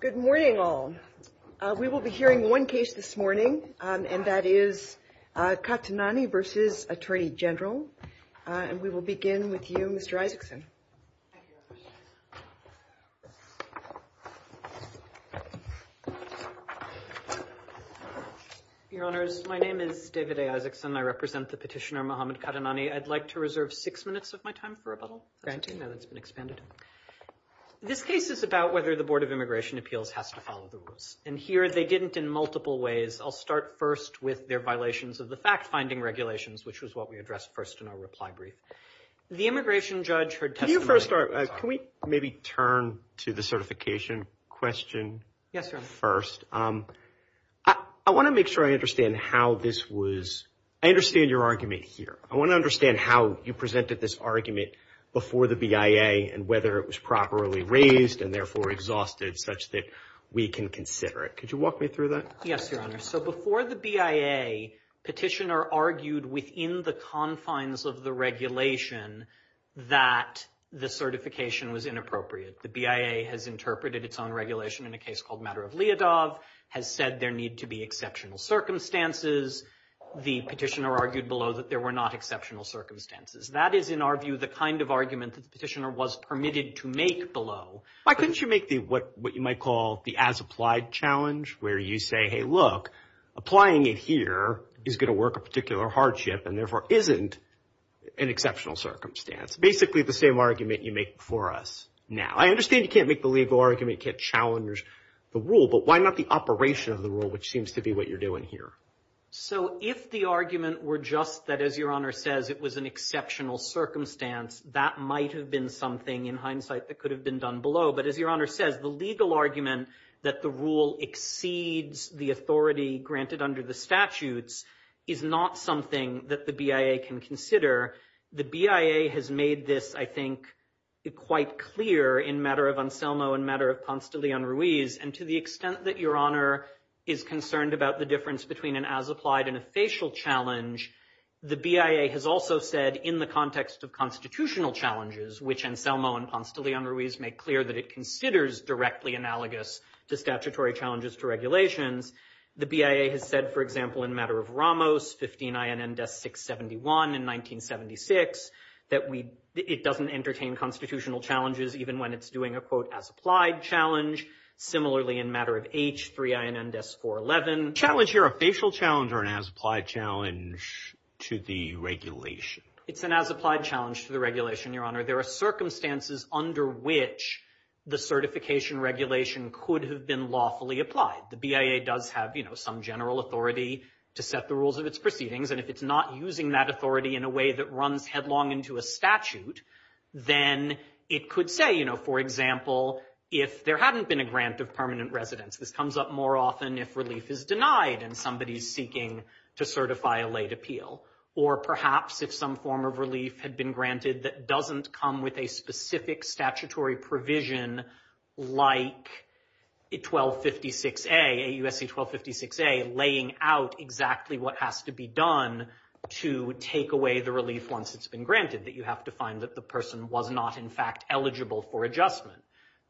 Good morning all. We will be hearing one case this morning, and that is Qatanani v. Attorney General, and we will begin with you, Mr. Isakson. Your Honors, my name is David Isakson. I represent the petitioner Mohamed Qatanani. I'd like to reserve six minutes of my time for a little granting that has been expanded. This case is about whether the Board of Immigration Appeals has to follow the rules, and here they didn't in multiple ways. I'll start first with their violations of the fact-finding regulations, which was what we addressed first in our reply brief. The immigration judge heard... Can we maybe turn to the certification question first? I want to make sure I understand how this was... I understand your argument here. I want to understand how you presented this argument before the BIA, and whether it was properly raised, and therefore exhausted, such that we can consider it. Could you walk me through that? Yes, Your Honor. So, before the BIA, the petitioner argued within the confines of the regulation that the certification was inappropriate. The BIA has interpreted its own regulation in a case called Matter of Liadov, has said there need to be exceptional circumstances. The petitioner argued below that there were not exceptional circumstances. That is, in our view, the kind of argument the petitioner was permitted to make below. Why couldn't you make the... what you might call the as-applied challenge, where you say, hey, look, applying it here is going to work a particular hardship, and therefore isn't an exceptional circumstance? Basically the same argument you make for us now. I understand you can't make the legal argument, you can't challenge the rule, but why not the operation of the rule, which seems to be what you're doing here? So, if the argument were just that, as Your Honor says, it was an exceptional circumstance, that might have been something, in hindsight, that could have been done below. But as Your Honor says, the legal argument that the rule exceeds the authority granted under the statutes is not something that the BIA can consider. The BIA has made this, I think, quite clear in Matter of Anselmo and Matter of Ponce de Leon Ruiz, and to the extent that Your Honor is concerned about the difference between an as-applied and a spatial challenge, the BIA has also said, in the context of constitutional challenges, which Anselmo and Ponce de Leon Ruiz make clear that it considers directly analogous to statutory challenges for regulation, the BIA has said, for example, in Matter of Ramos, 15 INN death, 671, in 1976, that it doesn't entertain constitutional challenges, even when it's doing a, quote, as-applied challenge. Similarly, in Matter of H, 3 INN deaths, 411. Challenge here, a spatial challenge or an as-applied challenge to the regulation? It's an as-applied challenge to the regulation, Your Honor. There are circumstances under which the certification regulation could have been lawfully applied. The BIA does have, you know, some general authority to set the rules of its proceedings, and if it's not using that authority in a way that runs headlong into a statute, then it could say, you know, for example, if there hadn't been a grant of permanent residence, which comes up more often if relief is denied and somebody's seeking to certify a late appeal, or perhaps if some form of relief had been granted that doesn't come with a specific statutory provision like 1256A, AUSC 1256A, laying out exactly what has to be done to take away the relief once it's been granted, that you have to find that the person was not, in fact, eligible for adjustment.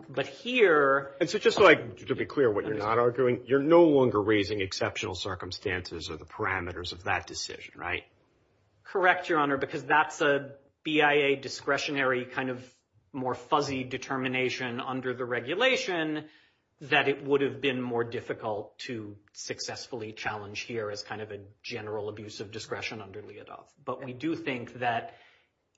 But here... And so just like, to be clear, what you're not arguing, you're no longer raising exceptional circumstances or the parameters of that decision, right? Correct, Your Honor, because that's a BIA discretionary kind of more fuzzy determination under the regulation that it would have been more difficult to successfully challenge here as kind of a general abuse of discretion under LEADOC. But we do think that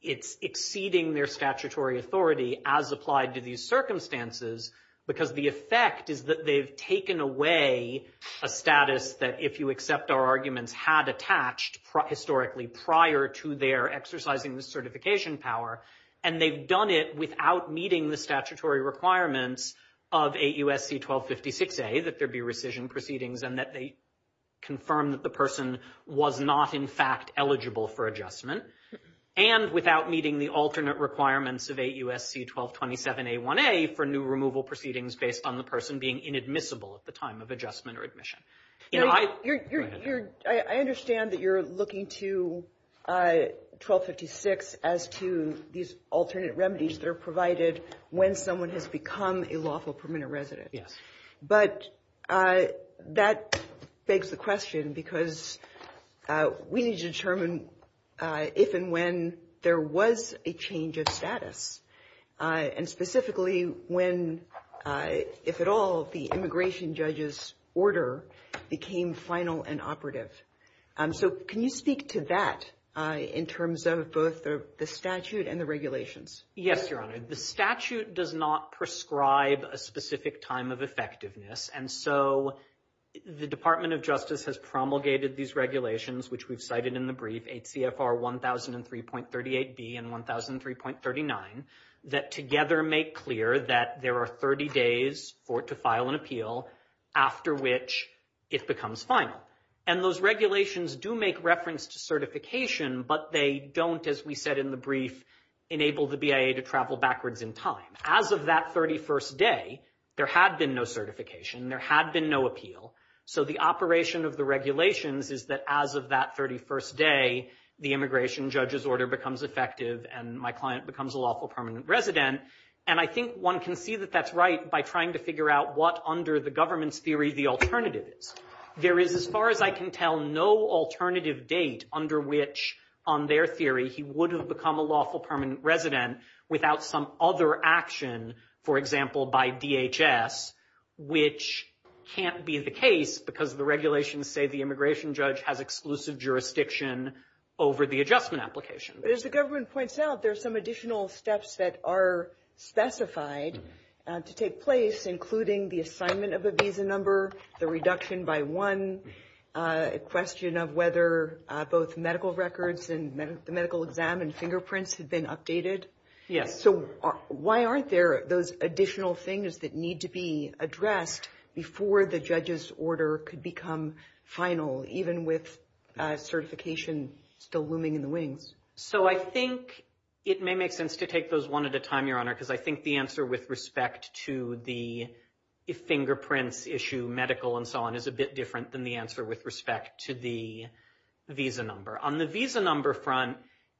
it's exceeding their statutory authority as applied to these circumstances because the effect is that they've taken away a status that, if you accept our arguments, had attached historically prior to their exercising the certification power, and they've done it without meeting the statutory requirements of AUSC 1256A, that there be rescission proceedings and that they confirm that the person was not, in fact, eligible for adjustment, and without meeting the alternate requirements of AUSC 1227A1A for new removal proceedings based on the person being inadmissible at the time of adjustment or admission. I understand that you're looking to 1256 as to these alternate remedies that are provided when someone has become a lawful permanent resident. But that begs the question because we need to determine if and when there was a change of status. And specifically when, if at all, the immigration judge's order became final and operative. So can you speak to that in terms of both the statute and the regulations? Yes, Your Honor. The statute does not prescribe a specific time of effectiveness. And so the Department of Justice has promulgated these regulations, which we've cited in the brief, HCFR 1003.38B and 1003.39, that together make clear that there are 30 days for it to file an appeal, after which it becomes final. And those regulations do make reference to certification, but they don't, as we said in the brief, enable the BIA to travel backwards in time. As of that 31st day, there had been no certification, there had been no appeal. So the operation of the regulations is that as of that 31st day, the immigration judge's order becomes effective and my client becomes a lawful permanent resident. And I think one can see that that's right by trying to figure out what, under the government's theory, the alternative is. There is, as far as I can tell, no alternative date under which, on their theory, he wouldn't have become a lawful permanent resident without some other action, for example, by DHS, which can't be the case because the regulations say the immigration judge has exclusive jurisdiction over the adjustment application. But as the government points out, there's some additional steps that are specified to take place, including the assignment of a visa number, the reduction by one, a question of whether both medical records and medical exam and fingerprints have been updated. So why aren't there those additional things that need to be addressed before the judge's order could become final, even with certification still looming in the wings? So I think it may make sense to take those one at a time, Your Honor, because I think the answer with respect to the fingerprints issue, medical and so on, is a bit different than the answer with respect to the visa number. On the visa number front,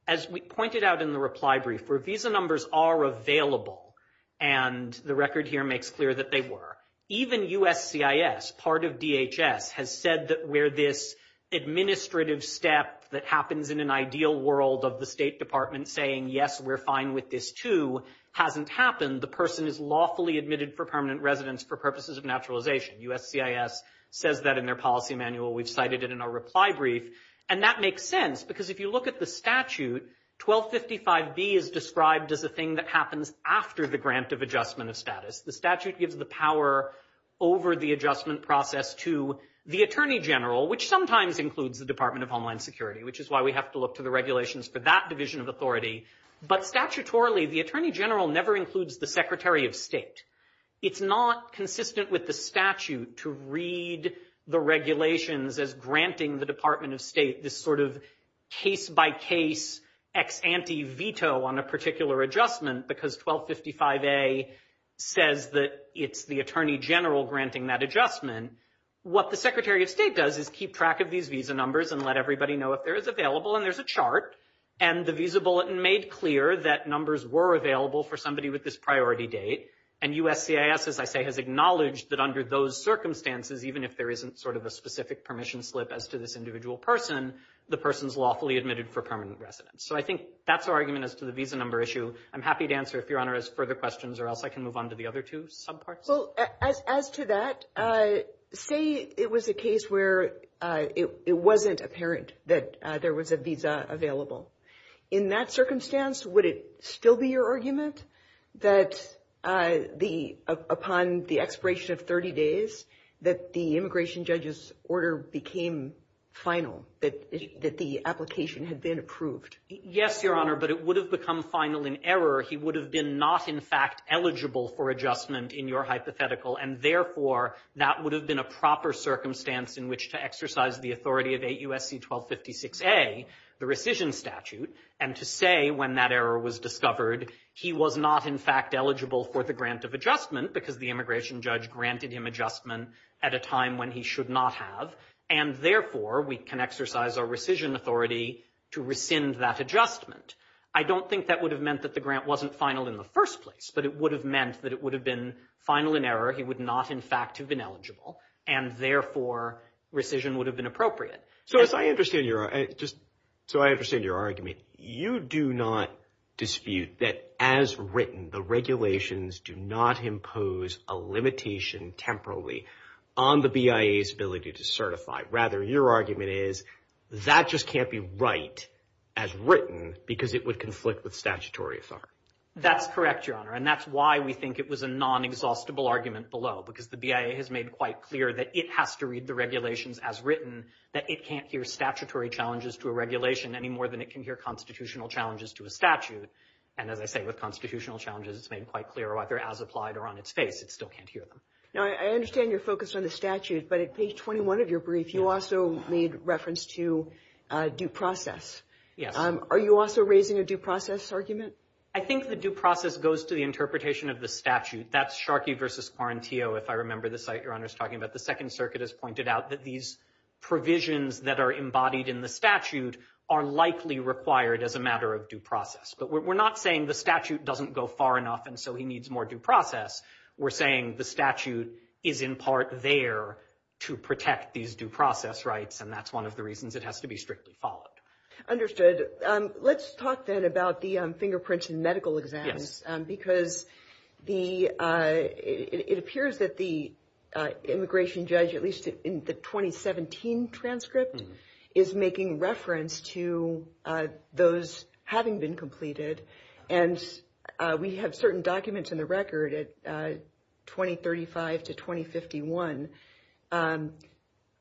as we pointed out in the reply brief, visa numbers are available, and the record here makes clear that they were. Even USCIS, part of DHS, has said that where this administrative step that happens in an ideal world of the State Department saying, yes, we're fine with this too, hasn't happened. The person is lawfully admitted for permanent residence for purposes of naturalization. USCIS says that in their policy manual. We've cited it in our reply brief. And that makes sense because if you look at the statute, 1255B is described as the thing that happens after the grant of adjustment of status. The statute gives the power over the adjustment process to the Attorney General, which sometimes includes the Department of Homeland Security, which is why we have to look to the regulations for that division of authority. But statutorily, the Attorney General never includes the Secretary of State. It's not consistent with the statute to read the regulations as granting the Department of State this sort of case-by-case ex ante veto on a particular adjustment because 1255A says that it's the Attorney General granting that adjustment. What the Secretary of State does is keep track of these visa numbers and let everybody know if they're available. And there's a chart. And the visa bulletin made clear that numbers were available for somebody with this priority date. And USCIS, as I say, has acknowledged that under those circumstances, even if there isn't sort of a specific permission slip as to this individual person, the person's lawfully admitted for permanent residence. So I think that's our argument as to the visa number issue. I'm happy to answer if Your Honor has further questions or else I can move on to the other two subparts. Well, as to that, say it was a case where it wasn't apparent that there was a visa available. In that circumstance, would it still be your argument that upon the expiration of 30 days that the immigration judge's order became final, that the application had been approved? Yes, Your Honor, but it would have become final in error. He would have been not, in fact, eligible for adjustment in your hypothetical. And therefore, that would have been a proper circumstance in which to exercise the authority of AUSC 1256A, the rescission statute, and to say when that error was discovered he was not, in fact, eligible for the grant of adjustment because the immigration judge granted him adjustment at a time when he should not have. And therefore, we can exercise our rescission authority to rescind that adjustment. I don't think that would have meant that the grant wasn't final in the first place, but it would have meant that it would have been final in error. He would not, in fact, have been eligible. And therefore, rescission would have been appropriate. So I understand your argument. You do not dispute that, as written, the regulations do not impose a limitation temporarily on the BIA's ability to certify. Rather, your argument is that just can't be right, as written, because it would conflict with statutory authority. That's correct, Your Honor, and that's why we think it was a non-exhaustible argument below because the BIA has made quite clear that it has to read the regulations as written, that it can't hear statutory challenges to a regulation any more than it can hear constitutional challenges to a statute. And as I say, with constitutional challenges, it's made quite clear, whether as applied or on its face, it still can't hear them. Now, I understand your focus on the statute, but at page 21 of your brief, you also made reference to due process. Are you also raising a due process argument? I think the due process goes to the interpretation of the statute. That's Sharkey v. Quarantio, if I remember the site Your Honor's talking about. The Second Circuit has pointed out that these provisions that are embodied in the statute are likely required as a matter of due process. But we're not saying the statute doesn't go far enough and so he needs more due process. We're saying the statute is in part there to protect these due process rights and that's one of the reasons it has to be strictly followed. Understood. Let's talk then about the fingerprints in medical exams, because it appears that the immigration judge, at least in the 2017 transcript, is making reference to those having been completed. We have certain documents in the record at 2035 to 2051.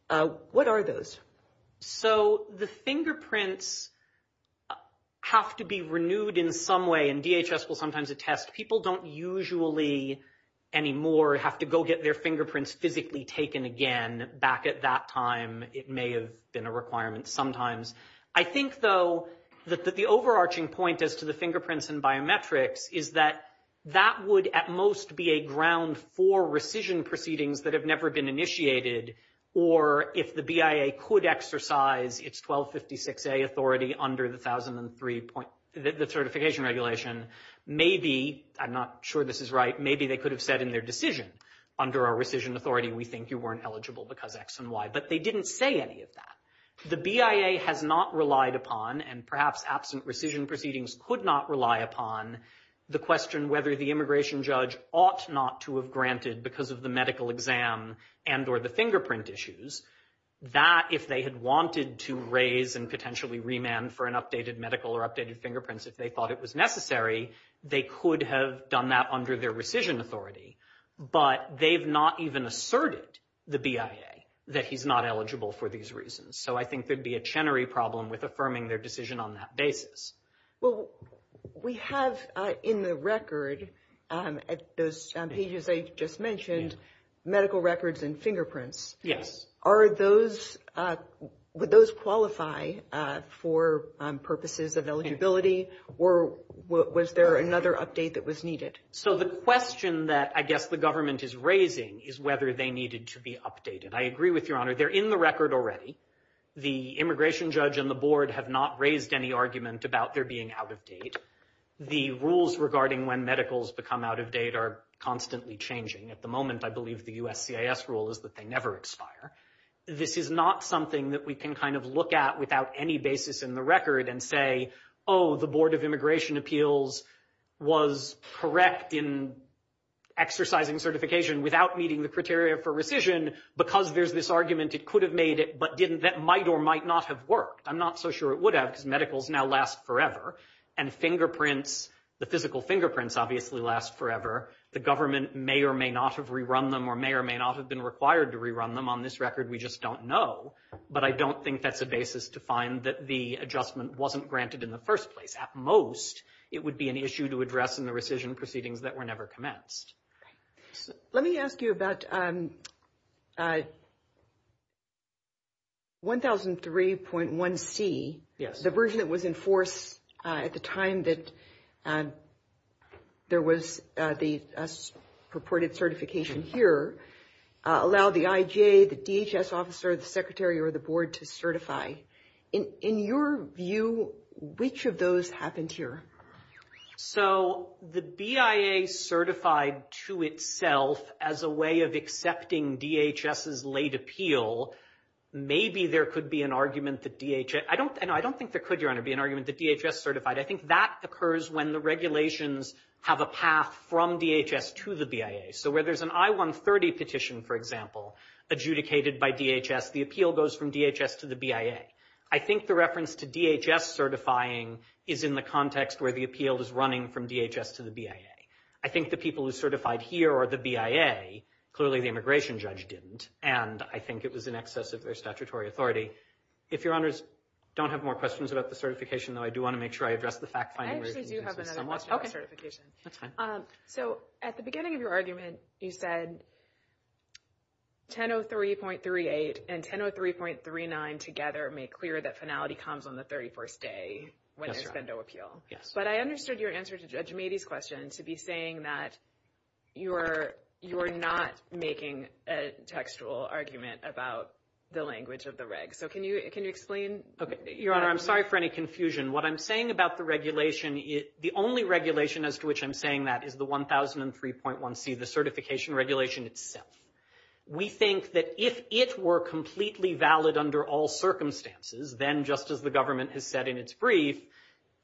What are those? The fingerprints have to be renewed in some way, and DHS will sometimes attest, people don't usually anymore have to go get their fingerprints physically taken again back at that time. It may have been a requirement sometimes. I think though that the overarching point as to the fingerprints and biometrics is that that would at most be a ground for rescission proceedings that have never been initiated or if the BIA could exercise its 1256A authority under the certification regulation, maybe I'm not sure this is right, maybe they could have said in their decision, under our rescission authority, we think you weren't eligible because X and Y, but they didn't say any of that. The BIA has not relied upon, and perhaps absent rescission proceedings could not rely upon the question whether the immigration judge ought not to have granted because of the medical exam and or the fingerprint issues that if they had wanted to raise and potentially remand for an updated medical or updated fingerprints if they thought it was necessary, they could have done that under their rescission authority, but they've not even asserted the BIA that he's not eligible for these reasons. So I think there'd be a Chenery problem with affirming their decision on that basis. Well, we have in the record at those pages they just mentioned, medical records and fingerprints. Yes. Are those, would those qualify for purposes of eligibility or was there another update that was needed? So the question that I guess the government is raising is whether they needed to be updated. I agree with your honor. They're in the record already. The immigration judge and the board have not raised any argument about their being out of date. The rules regarding when medicals become out of date are constantly changing. At the moment, I believe the USCIS rule is that they never expire. This is not something that we can kind of look at without any basis in the record and say, oh, the Board of Immigration Appeals was correct in exercising certification without meeting the criteria for rescission because there's this argument it could have made it but didn't, that might or might not have worked. I'm not so sure it would have because medicals now last forever and fingerprints, the physical fingerprints obviously last forever. The government may or may not have rerun them or may or may not have been required to rerun them. On this record, we just don't know. But I don't think that's the basis to find that the adjustment wasn't granted in the first place. At most, it would be an issue to address in the rescission proceedings that were never commenced. Let me ask you about 1003.1c. The version that was enforced at the time that there was the purported certification here allowed the IGA, the DHS officer, the secretary or the board to certify. In your view, which of those happened here? The BIA certified to itself as a way of accepting DHS's late appeal, maybe there could be an argument that DHS... I don't think there could be an argument that DHS certified. I think that occurs when the regulations have a path from DHS to the BIA. So where there's an I-130 petition, for example, adjudicated by DHS, the appeal goes from DHS to the BIA. I think the reference to DHS certifying is in the context where the appeal is running from DHS to the BIA. I think the people who certified here are the BIA. Clearly, the immigration judge didn't, and I think it was in excess of their statutory authority. If Your Honors don't have more questions about the certification, though, I do want to make sure I address the fact... I actually do have another question about certification. So, at the beginning of your argument, you said 1003.38 and 1003.39 together make clear that finality comes on the 31st day when there's a no appeal. But I understood your answer to Judge Mady's question to be saying that you are not making a textual argument about the language of the reg. So can you explain? Your Honor, I'm sorry for any confusion. What I'm saying about the regulation, the only regulation as to which I'm saying that is the 1003.1c, the certification regulation itself. We think that if it were completely valid under all circumstances, then just as the government has said in its brief,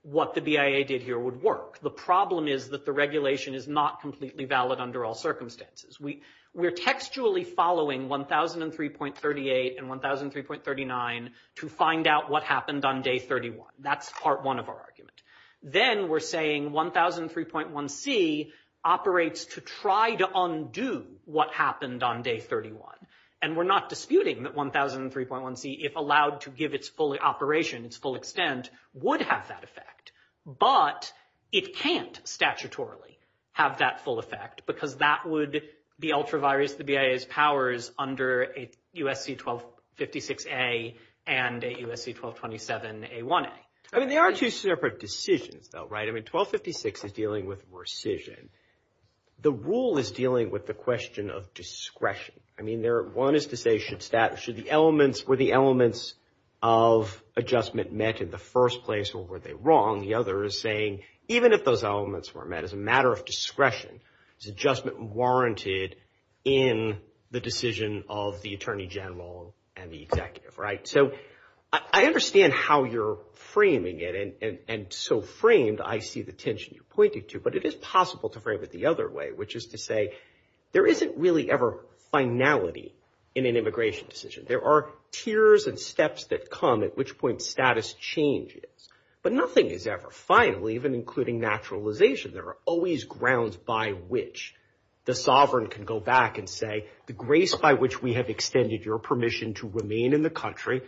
what the BIA did here would work. The problem is that the regulation is not completely valid under all circumstances. We're textually following 1003.38 and 1003.39 to find out what happened on day 31. That's part one of our argument. Then we're saying 1003.1c operates to try to undo what happened on day 31. And we're not disputing that 1003.1c, if allowed to give its full operation, its full extent, would have that effect. But it can't statutorily have that full effect because that would be ultra-virus the BIA's powers under a USC 1256a and a USC 1227a1a. There are two separate decisions though, right? I mean, 1256 is dealing with rescission. The rule is dealing with the question of discretion. I mean, one is to say, were the elements of adjustment met in the first place or were they wrong? The other is saying even if those elements were met as a matter of discretion, is adjustment warranted in the decision of the attorney general and the executive, right? I understand how you're framing it and so framed, I see the tension you pointed to, but it is possible to frame it the other way, which is to say, there isn't really ever finality in an immigration decision. There are tiers and steps that come at which point status changes, but nothing is ever final, even including naturalization. There are always grounds by which the sovereign can go back and say, the grace by which we have extended your permission to remain in the country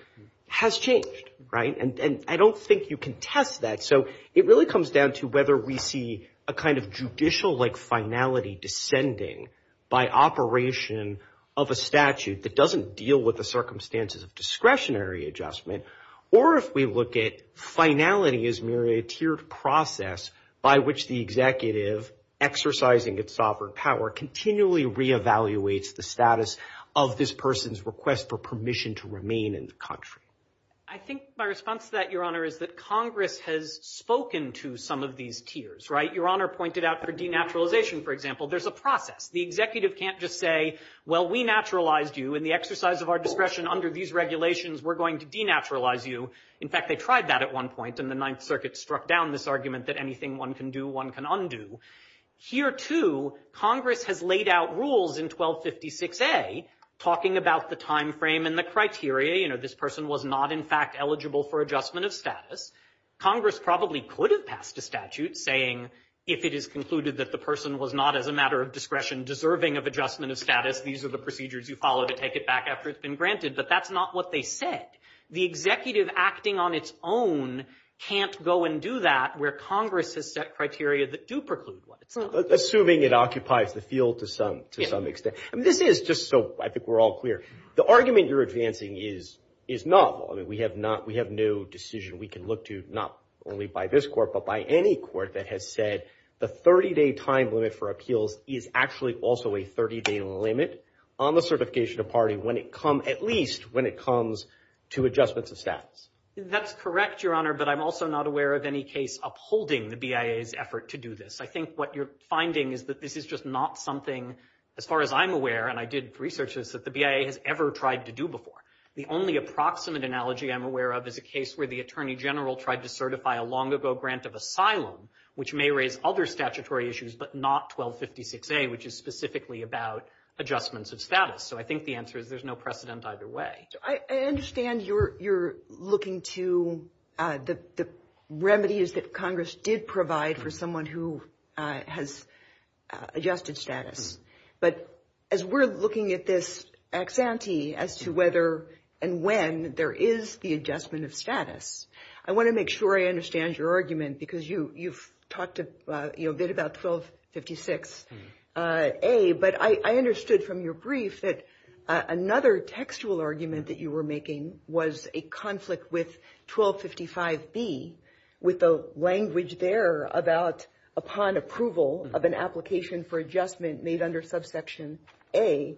has changed. I don't think you can test that. It really comes down to whether we see a kind of judicial finality descending by operation of a statute that doesn't deal with the circumstances of discretionary adjustment or if we look at finality as merely a tiered process by which the executive, exercising its sovereign power, continually re-evaluates the status of this person's request for permission to remain in the country. I think my response to that, Your Honor, is that Congress has spoken to some of these tiers. Your Honor pointed out for denaturalization, for example, there's a process. The executive can't just say, well, we naturalized you and the exercise of our discretion under these regulations, we're going to denaturalize you. In fact, they tried that at one point and the Ninth Circuit struck down this argument that anything one can do, one can undo. Here, too, Congress has laid out rules in 1256A talking about the timeframe and the criteria. This person was not in fact eligible for adjustment of status. Congress probably could have passed a statute saying if it is concluded that the person was not, as a matter of discretion, deserving of adjustment of status, these are the procedures you follow to take it back after it's been granted, but that's not what they said. The executive acting on its own can't go and do that where Congress has set criteria that do preclude what it says. Assuming it occupies the field to some extent. This is just so I think we're all clear. The argument you're advancing is novel. I mean, we have no decision we can look to, not only by this court, but by any court that has said the 30-day time limit for appeals is actually also a 30-day limit on the certification of party when it comes at least when it comes to adjustments of status. That's correct, Your Honor, but I'm also not aware of any case upholding the BIA's effort to do this. I think what you're finding is that this is just not something, as far as I'm aware, and I did research this, that the BIA has ever tried to do before. The only approximate analogy I'm aware of is a case where the Attorney General tried to certify a long-ago grant of asylum, which may raise other statutory issues, but not 1256A, which is specifically about adjustments of status. So I think the answer is there's no precedent either way. I understand you're looking to the remedies that Congress did provide for someone who has adjusted status, but as we're looking at this ex-ante as to whether and when there is the adjustment of status, I want to make sure I understand your argument because you've talked a bit about 1256A, but I understood from your brief that another textual argument that you were making was a conflict with 1255B, with the language there about upon approval of an application for adjustment made under subsection A,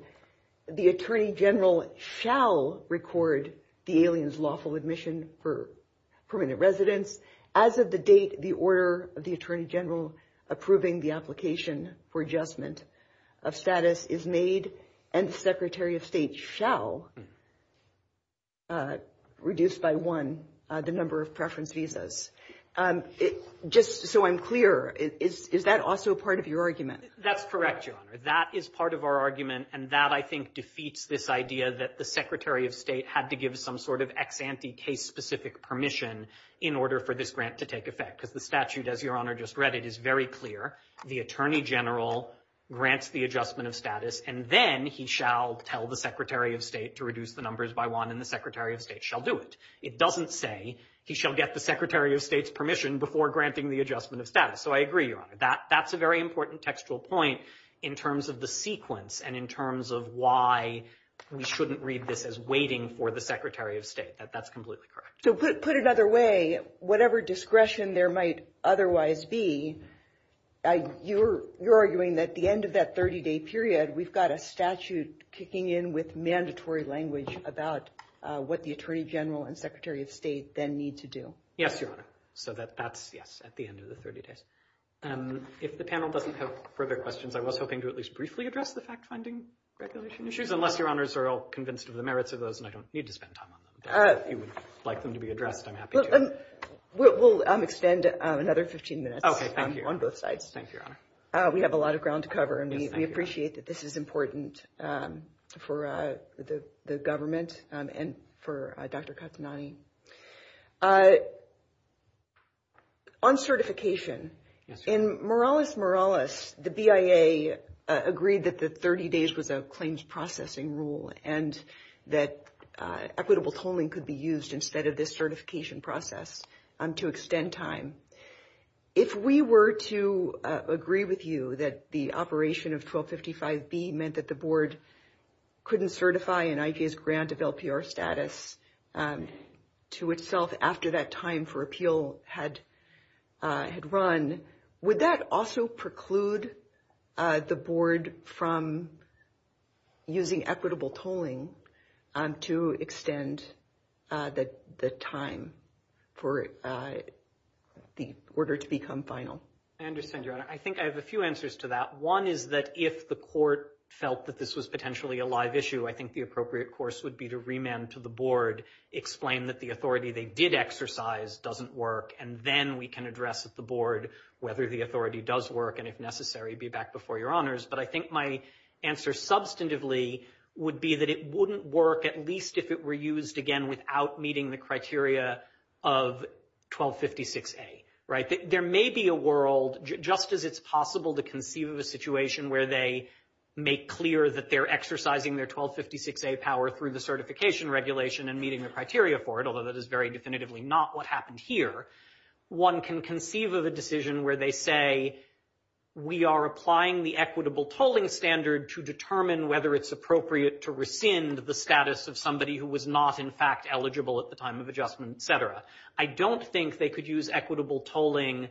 the Attorney General shall record the alien's lawful admission for permanent residence as of the date the order of the Attorney General approving the application for adjustment of status is made and the Secretary of State shall reduce by one the number of preference visas. Just so I'm clear, is that also part of your argument? That's correct, Your Honor. That is part of our argument and that I think defeats this idea that the Secretary of State had to give some sort of ex-ante case specific permission in order for this grant to take effect because the statute as Your Honor just read it is very clear. The Attorney General grants the adjustment of status and then he shall tell the Secretary of State to reduce the numbers by one and the Secretary of State shall do it. It doesn't say he shall get the Secretary of State's permission before granting the adjustment of status. I agree, Your Honor. That's a very important textual point in terms of the sequence and in terms of why we shouldn't read this as waiting for the Secretary of State. That's completely correct. Put another way, whatever discretion there might otherwise be, you're arguing that at the end of that 30-day period, we've got a statute kicking in with mandatory language about what the Attorney General and Secretary of State then need to do. Yes, Your Honor. So that's, yes, at the end of the 30 days. If the panel doesn't have further questions, I was hoping to at least briefly address the fact-finding regulation issues unless Your Honors are all convinced of the merits of those and I don't need to spend time on them. If you would like them to be addressed, I'm happy to. We'll extend another 15 minutes on both sides. We have a lot of ground to cover and we appreciate that this is important for the government and for Dr. Kastanayi. On certification, in Morales-Morales, the BIA agreed that the 30 days was a claims processing rule and that equitable tolling could be used instead of this certification process to extend time. If we were to agree with you that the operation of 1255B meant that the Board couldn't certify an IG's grant of LPR status to itself after that time for appeal had run, would that also preclude the Board from using equitable tolling to extend the time for the order to become final? I understand, Your Honor. I think I have a few answers to that. One is that if the Court felt that this was potentially a live issue, I think the appropriate course would be to remand to the Board, explain that the authority they did exercise doesn't work, and then we can address with the Board whether the authority does work and, if necessary, be back before Your Honors. But I think my answer substantively would be that it wouldn't work at least if it were used, again, without meeting the criteria of 1256A. There may be a world, just as it's possible to conceive of a situation where they make clear that they're exercising their 1256A power through the certification regulation and meeting the criteria for it, although that is very definitively not what happened here. One can conceive of a decision where they say, we are applying the equitable tolling standard to determine whether it's appropriate to rescind the status of somebody who was not, in fact, eligible at the time of adjustment, et cetera. I don't think they could use equitable tolling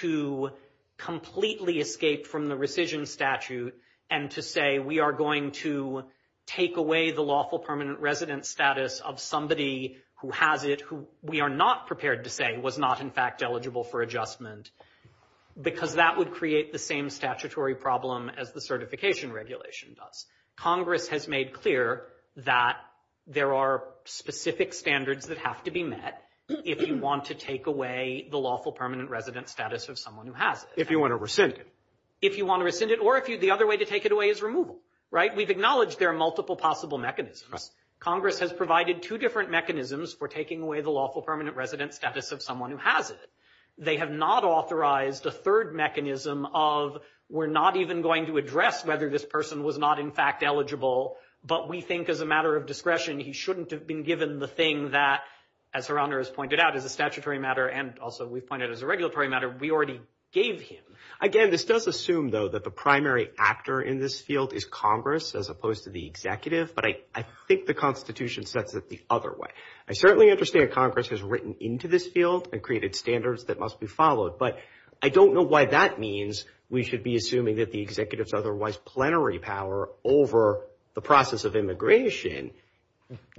to completely escape from the rescission statute and to say, we are going to take away the lawful permanent resident status of somebody who has it, who we are not prepared to say was not, in fact, eligible for adjustment, because that would create the same statutory problem as the certification regulation does. Congress has made clear that there are specific standards that have to be met if you want to take away the lawful permanent resident status of someone who has it. If you want to rescind it. If you want to rescind it, or if the other way to take it away is removal, right? We've acknowledged there are multiple possible mechanisms. Congress has provided two different mechanisms for taking away the lawful permanent resident status of someone who has it. They have not authorized a third mechanism of, we're not even going to address whether this person was not, in fact, eligible, but we think as a matter of discretion, he shouldn't have been given the thing that, as Her Honor has pointed out, is a statutory matter and also we find it as a regulatory matter, we already gave him. Again, this does assume, though, that the primary actor in this field is Congress as opposed to the executive, but I think the Constitution sets it the other way. I certainly understand Congress has written into this field and created standards that must be followed, but I don't know why that means we should be assuming that the executive's otherwise plenary power over the process of immigration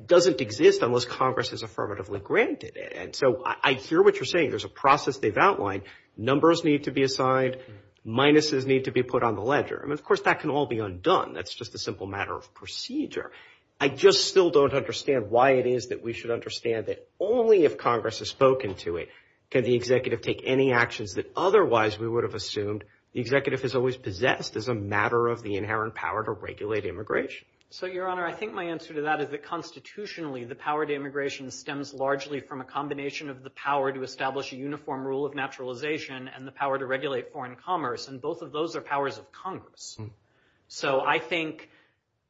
doesn't exist unless Congress has affirmatively granted it, and so I hear what you're saying, there's a process they've outlined, numbers need to be assigned, minuses need to be put on the ledger, and of course that can all be undone, that's just a simple matter of procedure. I just still don't understand why it is that we should understand that only if Congress has spoken to it can the executive take any actions that otherwise we would have assumed the executive has always possessed as a matter of the inherent power to regulate immigration. So, Your Honor, I think my answer to that is that constitutionally the power to immigration stems largely from a combination of the power to establish a uniform rule of naturalization and the power to regulate foreign commerce, and both of those are powers of Congress. So, I think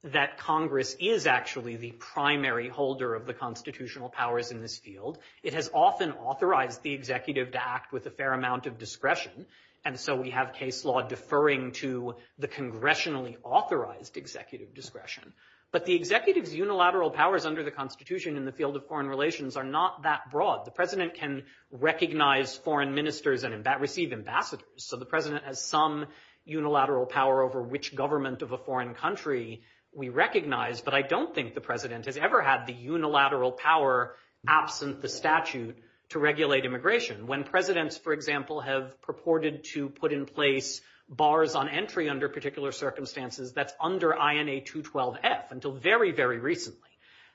that Congress is actually the primary holder of the constitutional powers in this field. It has often authorized the executive to act with a fair amount of discretion, and so we have case law deferring to the congressionally authorized executive discretion. But the executive's unilateral powers under the Constitution in the field of foreign relations are not that broad. The president can recognize foreign ministers and receive ambassadors, so the president has some unilateral power over which government of a foreign country we recognize, but I don't think the president has ever had the unilateral power absent the statute to regulate immigration. When presidents, for example, have purported to put in place bars on entry under particular circumstances, that's under INA 212F until very, very recently.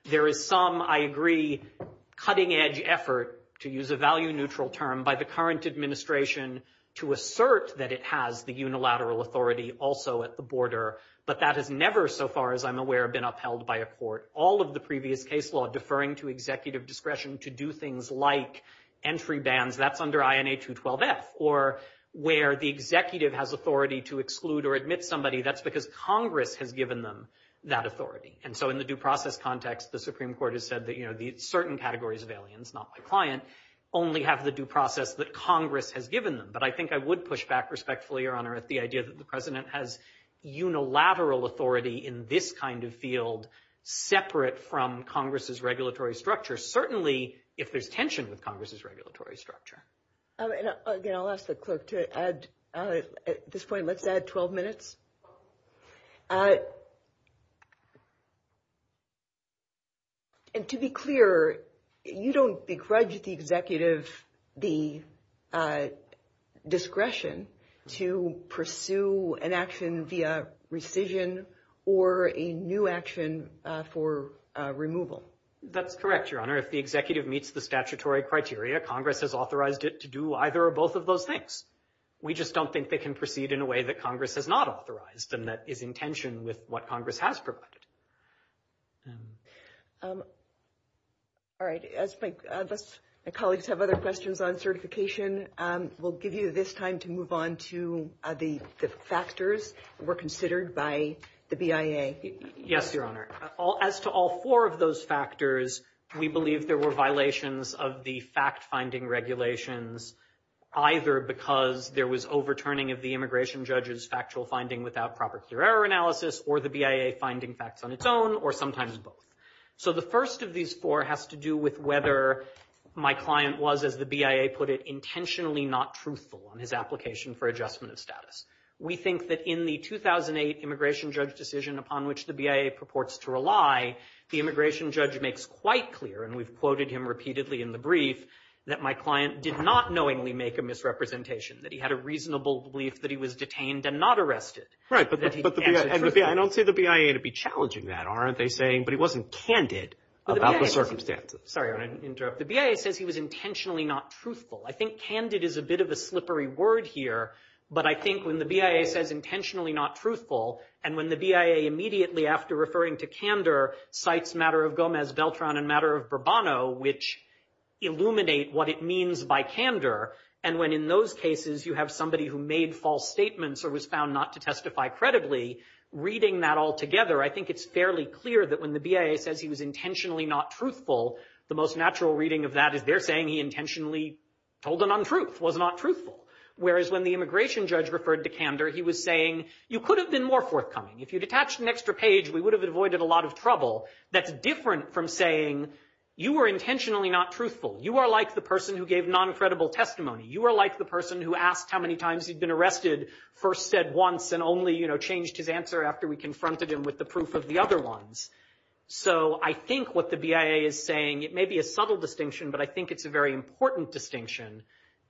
There is some, I agree, cutting edge effort, to use a value neutral term, by the current administration to assert that it has the unilateral authority also at the border, but that has never, so far as I'm aware, been upheld by a court. All of the previous case law deferring to executive discretion to do things like entry bans, that's under INA 212F, or where the executive has authority to exclude or admit somebody, that's because Congress has given them that authority. In the due process context, the Supreme Court has said that certain categories of aliens, not my client, only have the due process that Congress has given them, but I think I would push back respectfully, Your Honor, at the idea that the president has unilateral authority in this kind of field, separate from Congress's regulatory structure, certainly if there's tension with Congress's regulatory structure. Again, I'll ask the clerk to add, at this point, let's add 12 minutes. And to be clear, you don't begrudge the executive the discretion to pursue an action via rescission or a new action for removal. That's correct, Your Honor. If the executive meets the statutory criteria, Congress has authorized it to do either or both of those things. We just don't think they can proceed in a way that Congress has not authorized, and that is in tension with what Congress has provided. All right. My colleagues have other questions on certification. We'll give you this time to move on to the factors that were considered by the BIA. Yes, Your Honor. As to all four of those factors, we believe there were violations of the fact-finding regulations, either because there was overturning of the immigration judge's factual finding without proper clear error analysis, or the BIA finding facts on its own, or sometimes both. The first of these four has to do with whether my client was, as the BIA put it, intentionally not truthful in his application for adjustment of status. We think that in the 2008 immigration judge decision upon which the BIA purports to rely, the immigration judge makes quite clear, and we've quoted him repeatedly in the brief, that my client did not knowingly make a misrepresentation, that he had a reasonable belief that he was detained and not arrested. Right, but I don't see the BIA to be challenging that, aren't they saying? But he wasn't candid about the circumstances. Sorry, Your Honor. The BIA says he was intentionally not truthful. I think candid is a bit of a slippery word here, but I think when the BIA says intentionally not truthful, and when the BIA immediately after referring to candor, cites matter of Gomez-Beltran and matter of Bourbon, which illuminate what it means by candor, and when in those cases you have somebody who made false statements or was found not to testify credibly, reading that all together, I think it's fairly clear that when the BIA says he was intentionally not truthful, the most natural reading of that is they're saying he intentionally told a non-truth, was not truthful. Whereas when the immigration judge referred to candor, he was saying, you could have been more forthcoming. If you'd attached an extra page, we would have avoided a lot of trouble. That's different from saying you were intentionally not truthful. You are like the person who gave non-credible testimony. You are like the person who asked how many times he'd been arrested, first said once and only changed his answer after we confronted him with the proof of the other ones. So I think what the BIA is saying, it may be a subtle distinction, but I think it's a very important distinction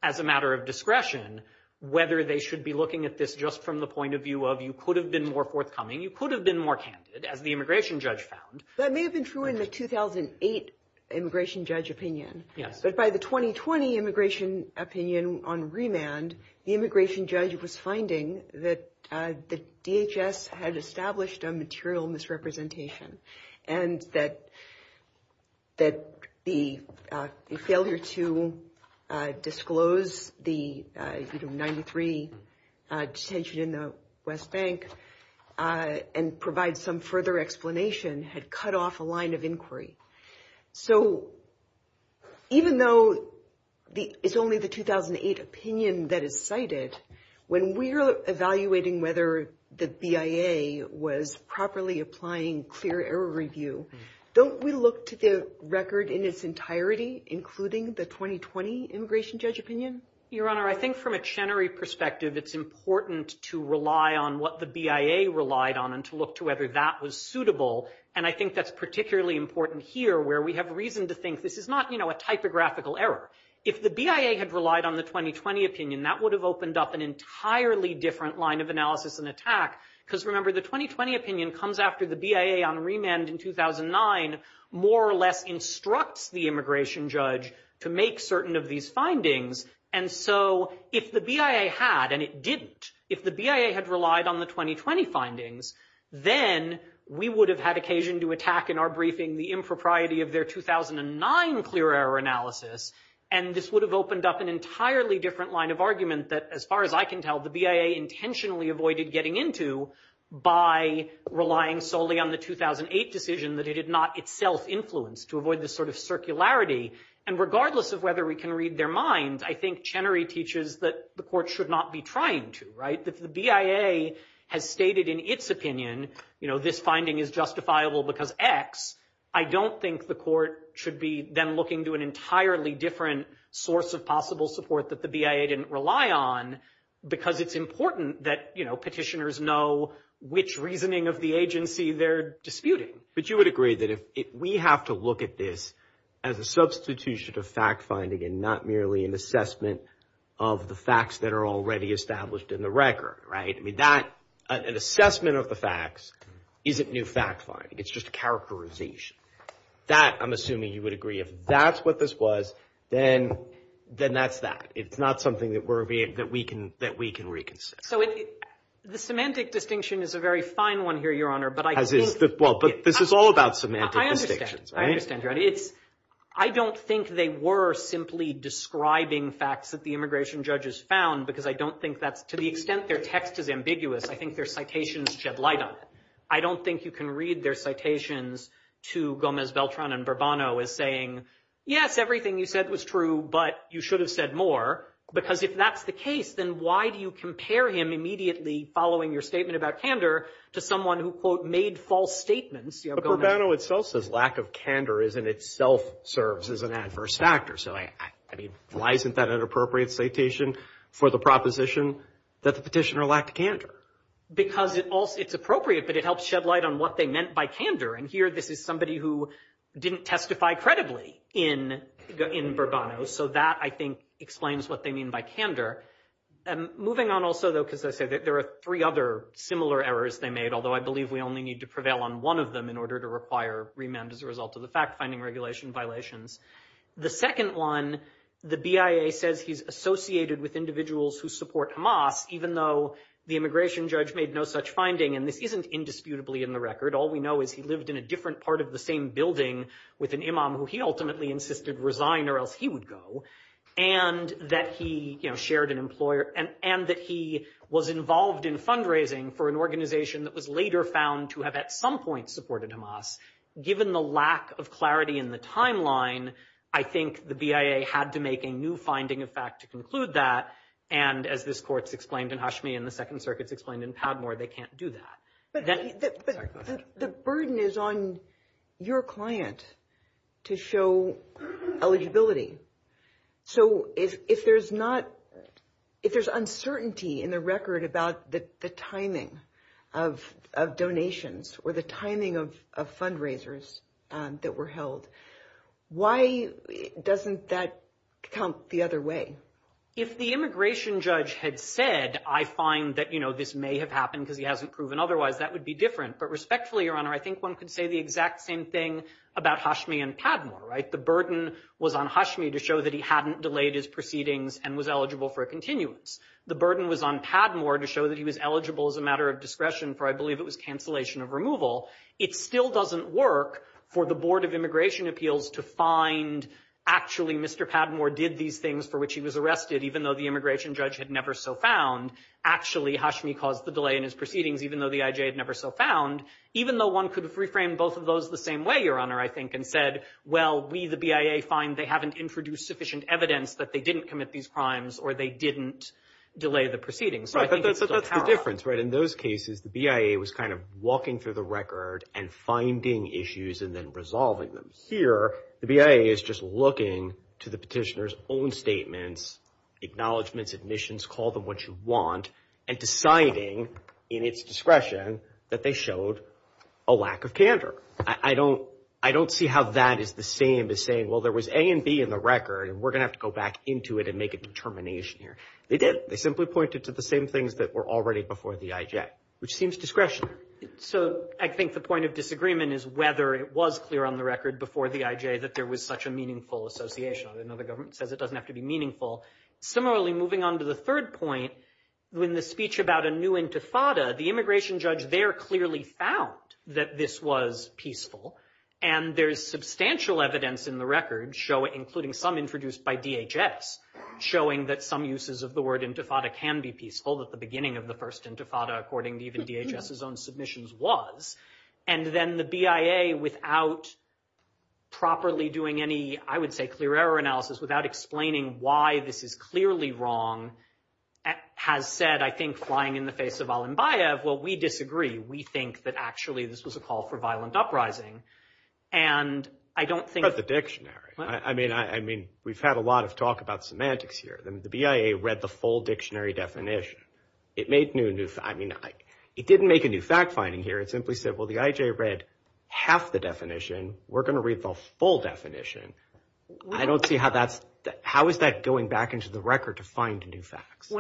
as a matter of discretion, whether they should be looking at this just from the point of view of you could have been more forthcoming, you could have been more candid, as the immigration judge found. That may have been true in the 2008 immigration judge opinion. But by the 2020 immigration opinion on remand, the immigration judge was finding that DHS had established a material misrepresentation and that the failure to disclose the 93 detention in the West Bank and provide some further explanation had cut off a line of inquiry. So even though it's only the 2008 opinion that it cited, when we are evaluating whether the BIA was properly applying clear error review, don't we look to the record in its entirety, including the 2020 immigration judge opinion? Your Honor, I think from a Chenery perspective, it's important to rely on what the BIA relied on and to look to whether that was suitable. And I think that's particularly important here where we have reason to think this is not a typographical error. If the BIA had relied on the 2020 opinion, that would have opened up an entirely different line of analysis and attack because, remember, the 2020 opinion comes after the BIA on remand in 2009 more or less instructs the immigration judge to make certain of these findings and so if the BIA had, and it didn't, if the BIA had relied on the 2020 findings, then we would have had occasion to attack in our briefing the impropriety of their 2009 clear error analysis and this would have opened up an entirely different line of argument that, as far as I can tell, the BIA intentionally avoided getting into by relying solely on the 2008 decision that it had not itself influenced to avoid this sort of circularity and regardless of whether we can read their minds, I think Chenery teaches that the court should not be trying to, right? If the BIA has stated in its opinion, you know, this finding is justifiable because X, I don't think the court should be then looking to an entirely different source of possible support that the BIA didn't rely on because it's important that, you know, petitioners know which reasoning of the agency they're disputing. But you would agree that if we have to look at this as a substitution of fact-finding and not merely an assessment of the facts that are already established in the record, right? I mean, that, an assessment of the facts isn't new fact-finding, it's just characterization. That, I'm assuming you would agree if that's what this was, then that's that. It's not something that we can reconsider. So the semantic distinction is a very fine one here, Your Honor, but I do... This is all about semantic distinctions. I understand. I don't think they were simply describing facts that the immigration judges found because I don't think that, to the extent their text is ambiguous, I think their citations shed light on it. I don't think you can read their citations to Gomez, Beltran, and Bourbono as saying, yes, everything you said was true, but you should have said more because if that's the case, then why do you compare him immediately following your statement about candor to someone who, quote, made false statements? But Bourbono itself says lack of candor is in itself serves as an adverse factor, so I mean, why isn't that an appropriate citation for the proposition that the petitioner lacked candor? Because it's appropriate, but it helps shed light on what they meant by candor, and here this is somebody who didn't testify credibly in Bourbono, so that, I think, explains what they mean by candor. Moving on also, though, because there are three other similar errors they made, although I believe we only need to prevail on one of them in order to require remand as a result of the fact-finding regulation violations. The second one, the BIA says he's associated with individuals who support Hamas, even though the immigration judge made no such finding, and this isn't indisputably in the record. All we know is he lived in a different part of the same building with an imam who he ultimately insisted resign or else he would go, and that he shared an employer and that he was involved in fundraising for an organization that was later found to have at some point supported Hamas. Given the lack of clarity in the timeline, I think the BIA had to make a new finding of fact to conclude that, and as this Court's explained in Hashmi and the Second Circuit's explained in Padmore, they can't do that. But the burden is on your client to show eligibility. So if there's not, if there's uncertainty in the record about the timing of donations or the timing of fundraisers that were held, why doesn't that count the other way? If the immigration judge had said, I find that this may have happened because he hasn't proven otherwise, that would be different. But respectfully, Your Honor, I think one could say the exact same thing about Hashmi and Padmore, right? The burden was on Hashmi to show that he hadn't delayed his proceedings and was eligible for a continuance. The burden was on Padmore to show that he was eligible as a matter of discretion, for I believe it was cancellation of removal. It still doesn't work for the Board of Immigration Appeals to find, actually Mr. Padmore did these things for which he was arrested, even though the immigration judge had never so found. Actually, Hashmi caused the delay in his proceedings, even though the IJ had never so found, even though one could reframe both of those the same way, Your Honor, I think, and said, well, we, the BIA, find they haven't introduced sufficient evidence that they didn't commit these crimes or they didn't delay the proceedings. But that's the difference, right? In those cases, the BIA was kind of walking through the record and finding issues and then resolving them. Here, the BIA is just looking to the petitioner's own statements, acknowledgments, admissions, call them what you want, and deciding in its discretion that they showed a lack of candor. I don't see how that is the same as saying, well, there was A and B in the record, and we're going to have to go back into it and make a determination here. They did. They simply pointed to the same things that were already before the IJ, which seems discretionary. So, I think the point of disagreement is whether it was clear on the record before the IJ that there was such a meaningful association. I know the government says it doesn't have to be meaningful. Similarly, moving on to the third point, when the speech about a new intifada, the immigration judge there clearly found that this was peaceful, and there's substantial evidence in the record including some introduced by DHS showing that some uses of the word intifada can be peaceful, that the beginning of the first intifada, according to even DHS's own submissions, was. And then the BIA, without properly doing any, I would say, clear error analysis, without explaining why this is clearly wrong, has said, I think, flying in the face of Al-Ambayev, well, we disagree. We think that actually this was a call for violent uprising. And I don't think... I mean, we've had a lot of talk about semantics here. The BIA read the full dictionary definition. It made new... It didn't make a new fact-finding here. It simply said, well, the IJ read half the definition. We're going to read the full definition. I don't see how that's... How is that going back into the record to find new facts?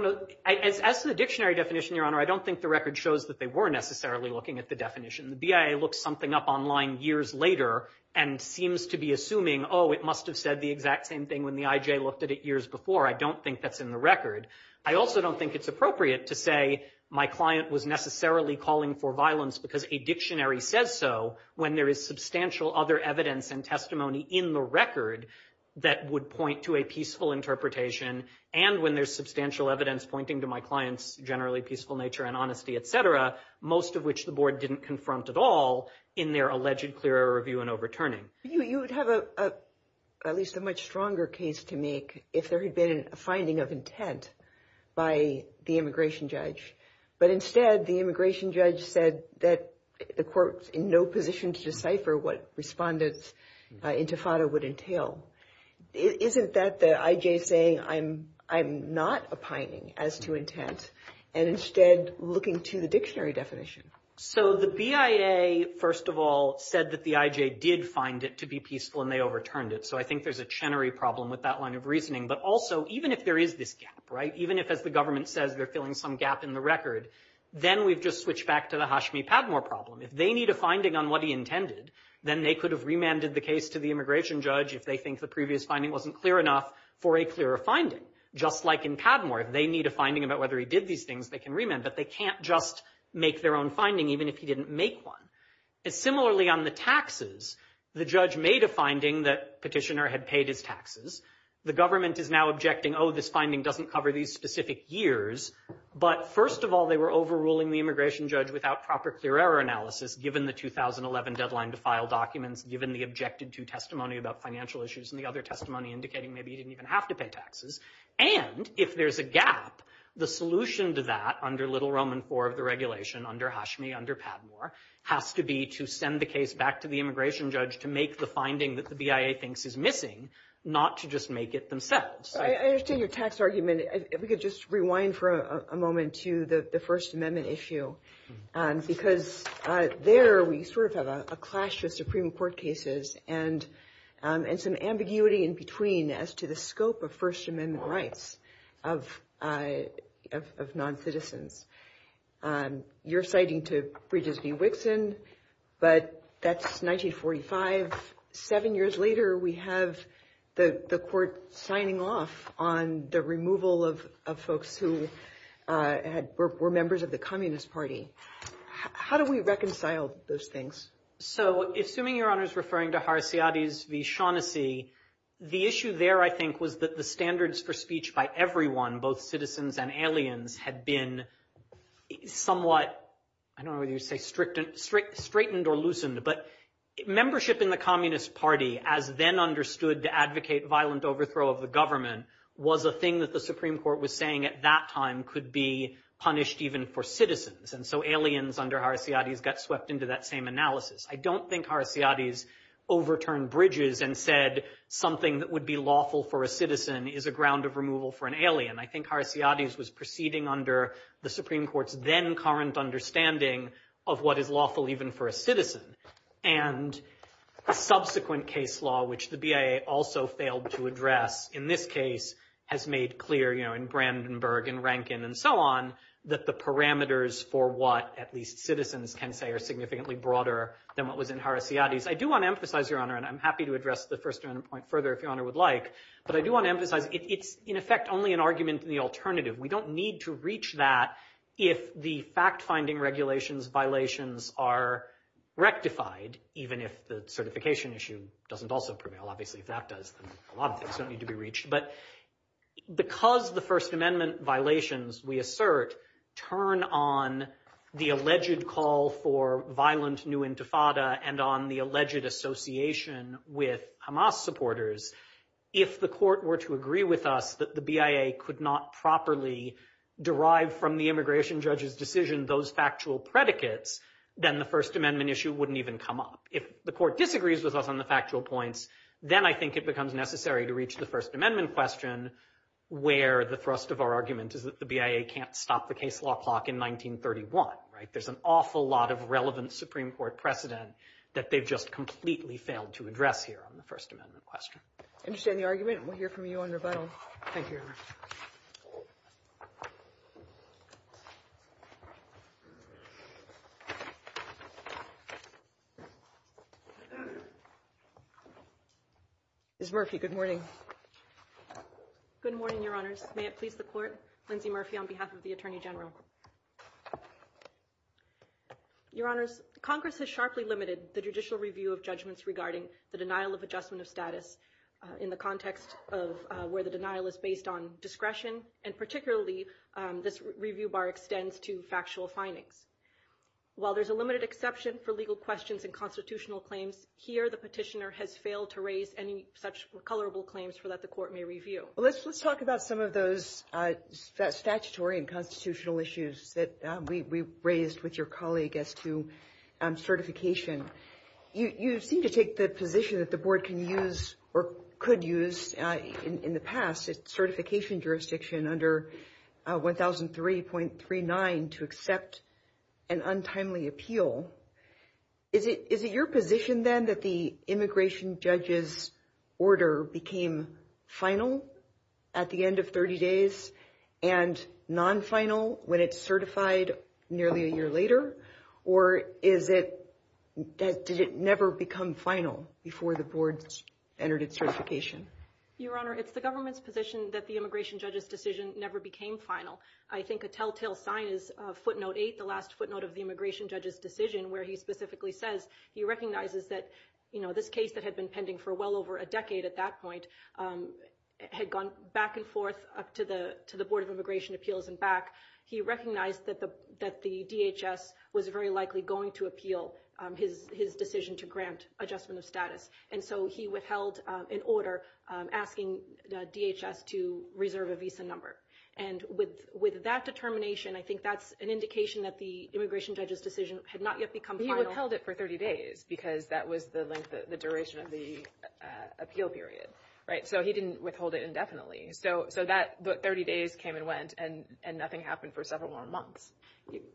As for the dictionary definition, Your Honor, I don't think the record shows that they were necessarily looking at the definition. The BIA looks something up online years later and seems to be assuming, oh, it must have said the exact same thing when the IJ looked at it years before. I don't think that's in the record. I also don't think it's appropriate to say my client was necessarily calling for violence because a dictionary says so when there is substantial other evidence and testimony in the record that would point to a peaceful interpretation and when there's substantial evidence pointing to my client's generally peaceful nature and honesty, etc., most of which the board didn't confront at all in their alleged clear air review and overturning. You would have at least a much stronger case to make if there had been a finding of intent by the immigration judge. But instead, the immigration judge said that the court's in no position to decipher what respondents' intifada would entail. Isn't that the IJ saying I'm not opining as to intent and instead looking to the dictionary definition? So the BIA, first of all, said that the IJ did find it to be peaceful and they overturned it. So I think there's a Chenery problem with that line of reasoning. But also, even if there is this gap, right, even if, as the government says, they're filling some gap in the record, then we just switch back to the Hashmi Padmore problem. If they need a finding on what he intended, then they could have remanded the case to the immigration judge if they think the previous finding wasn't clear enough for a clearer finding. Just like in Padmore, if they need a finding about whether he did these things, they can remand. But they can't just make their own finding even if he didn't make one. Similarly, on the taxes, the judge made a finding that petitioner had paid his taxes. The government is now objecting, oh, this finding doesn't cover these specific years. But first of all, they were overruling the immigration judge without proper clear error analysis given the 2011 deadline to file documents, given the objected to testimony about financial issues in the other testimony indicating maybe he didn't even have to pay taxes. And if there's a gap, the solution to that, under Little Roman IV of the regulation, under Hashmi, under Padmore, has to be to send the case back to the immigration judge to make the finding that the BIA thinks is missing, not to just make it themselves. I understand your tax argument. If we could just rewind for a moment to the First Amendment issue because there we sort of have a clash with Supreme Court cases and some ambiguity in between as to the scope of First Amendment rights of non-citizens. You're citing to Bridges v. Wixson, but that's 1945. Seven years later, we have the court signing off on the removal of folks who were members of the Communist Party. How do we reconcile those things? So, assuming Your Honor is referring to Harciades v. Shaughnessy, the issue there I think was that the standards for speech by everyone, both citizens and aliens, had been somewhat, I don't know whether you'd say straightened or loosened, but membership in the Communist Party, as then understood to advocate violent overthrow of the government, was a thing that the Supreme Court was saying at that time could be punished even for citizens. And so aliens under Harciades got swept into that same analysis. I don't think Harciades overturned Bridges and said something that would be lawful for a citizen is a ground of removal for an alien. I think Harciades was proceeding under the Supreme Court's then current understanding of what is lawful even for a citizen. And subsequent case law, which the BIA also failed to address in this case, has made clear in Brandenburg and Rankin and so on that the parameters for what at least citizens can say are significantly broader than what was in Harciades. I do want to emphasize, Your Honor, and I'm happy to address the first point further if Your Honor would like, but I do want to emphasize it's in effect only an argument in the alternative. We don't need to reach that if the fact-finding regulations, violations are rectified, even if the certification issue doesn't also prevail. Obviously, if that does, a lot of things don't need to be reached. But because the First Amendment violations, we assert, turn on the alleged call for violent new intifada and on the alleged association with Hamas supporters, if the court were to agree with us that the BIA could not properly derive from the immigration judge's decision those factual predicates, then the First Amendment issue wouldn't even come up. If the court disagrees with us on the factual points, then I think it becomes necessary to reach the First Amendment question where the thrust of our argument is that the BIA can't stop the case law clock in 1931, right? There's an awful lot of relevant Supreme Court precedent that they've just completely failed to address here on the First Amendment question. Interesting argument. We'll hear from you on your battle. Thank you, Your Honor. Ms. Murphy, good morning. Good morning, Your Honors. May it please the Court, Lindsay Murphy on behalf of the Attorney General. Your Honors, Congress has sharply limited the judicial review of judgments regarding the denial of adjustment of status in the context of where the denial is based on discretion, and particularly this review bar extends to factual findings. While there's a limited exception for legal questions and constitutional claims, here the petitioner has failed to raise any such colorable claims for that the Court may review. Let's talk about some of those statutory and constitutional issues that we raised with your colleague as to certification. You seem to take the position that the Board can use or could use in the past, certification jurisdiction under 1003.39 to accept an untimely appeal. Is it your position then that the immigration judge's order became final at the end of 30 days and non-final when it's certified nearly a year later, or is it that did it never become final before the Board entered its certification? Your Honor, it's the government's position that the immigration judge's decision never became final. I think a telltale sign is footnote 8, the last footnote of the immigration judge's decision where he specifically says he recognizes that this case that had been pending for well over a decade at that point had gone back and forth up to the Board of Immigration Appeals and back. He recognized that the DHS was very likely going to appeal his decision to grant adjustment of status. He withheld an order asking the DHS to reserve a visa number. With that determination, I think that's an indication that the immigration judge's decision had not yet become final. He withheld it for 30 days because that was the duration of the appeal period. He didn't withhold it indefinitely. The 30 days came and went, and nothing happened for several more months.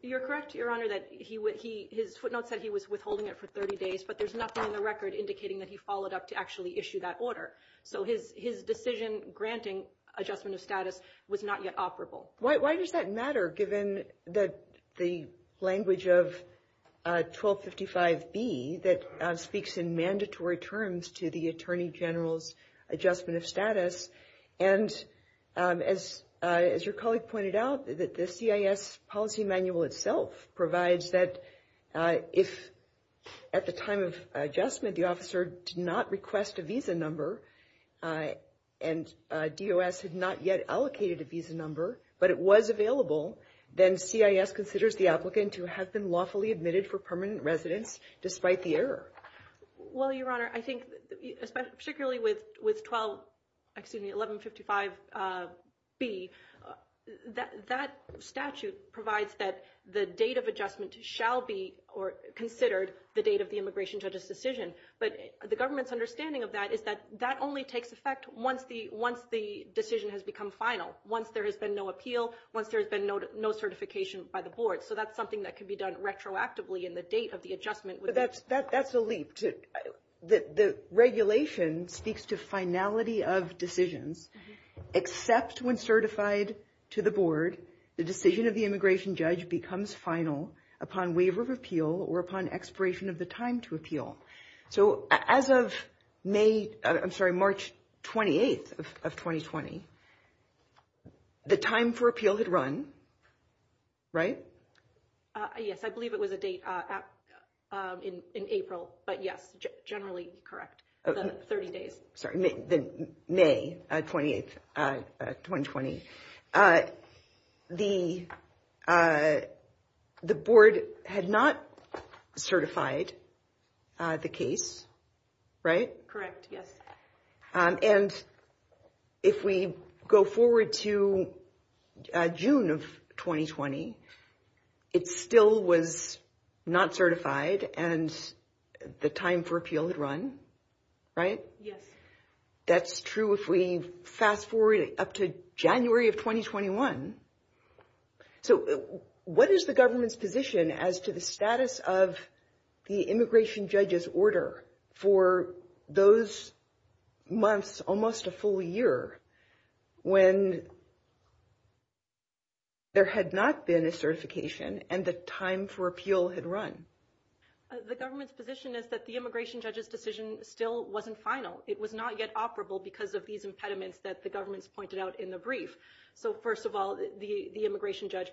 You're correct, Your Honor, that his footnote said he was withholding it for 30 days, but there's nothing in the record indicating that he followed up to actually issue that order. His decision granting adjustment of status was not yet operable. Why does that matter, given that the language of 1255 B that speaks in mandatory terms to the Attorney General's adjustment of status and as your colleague pointed out, the CIS policy manual itself provides that if at the time of adjustment the officer did not request a visa number and DOS had not yet allocated a visa number but it was available, then CIS considers the applicant who has been lawfully admitted for permanent residence despite the error. Well, Your Honor, I think particularly with 1155 B, that statute provides that the date of adjustment shall be considered the date of the immigration judge's decision, but the government's understanding of that is that that only takes effect once the decision has become final, once there has been no appeal, once there has been no certification by the board. So that's something that can be done retroactively in the date of the adjustment. That's a leap. The regulation speaks to finality of decision except when certified to the board, the decision of the immigration judge becomes final upon waiver of appeal or upon expiration of the time to appeal. So as of March 28th of 2020, the time for appeal had run, right? Yes, I believe it was a date in April, but yes, generally correct, the 30 days. May 28th, 2020. The board had not certified the case, right? Correct, yes. And if we go forward to June of 2020, it still was not certified and the time for appeal had run, right? Yes. That's true if we fast-forward up to January of 2021. So what is the government's position as to the status of the immigration judge's order for those months, almost a full year, when there had not been a certification and the time for appeal had run? The government's position is that the immigration judge's decision still wasn't final. It was not yet operable because of these impediments that the government pointed out in the brief. So first of all, the immigration judge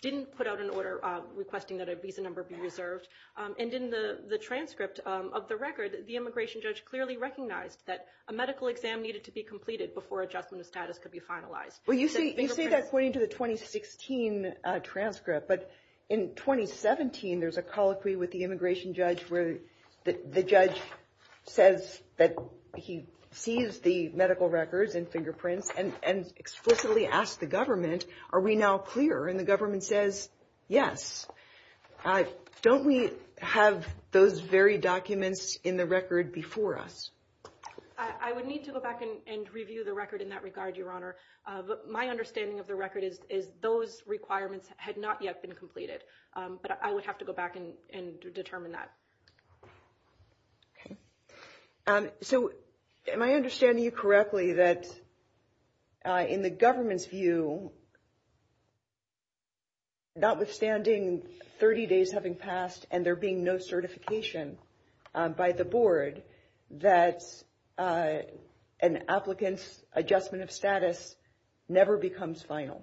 didn't put out an order requesting that at least a number be reserved. And in the transcript of the record, the immigration judge clearly recognized that a medical exam needed to be completed before a judgment status could be finalized. Well, you say that according to the 2016 transcript, but in 2017, there's a colloquy with the immigration judge where the judge says that he sees the medical records and fingerprints and explicitly asks the government, are we now clear? And the government says yes. Don't we have those very documents in the record before us? I would need to go back and review the record in that regard, Your Honor. But my understanding of the record is those requirements had not yet been completed. But I would have to go back and determine that. Okay. So am I understanding you correctly that in the government's view, notwithstanding 30 days having passed and there being no certification by the board, that an applicant's adjustment of status never becomes final?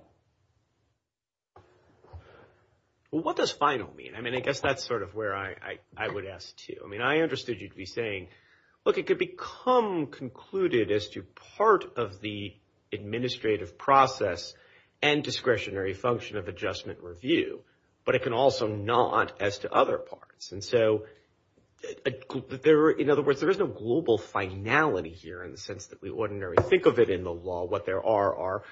What does final mean? I mean, I guess that's sort of where I would ask, too. I mean, I understood you to be saying, look, it could become concluded as to part of the administrative process and discretionary function of adjustment review, but it can also not as to other parts. And so in other words, there is no global finality here in the sense that we ordinarily think of it in the law. What there are are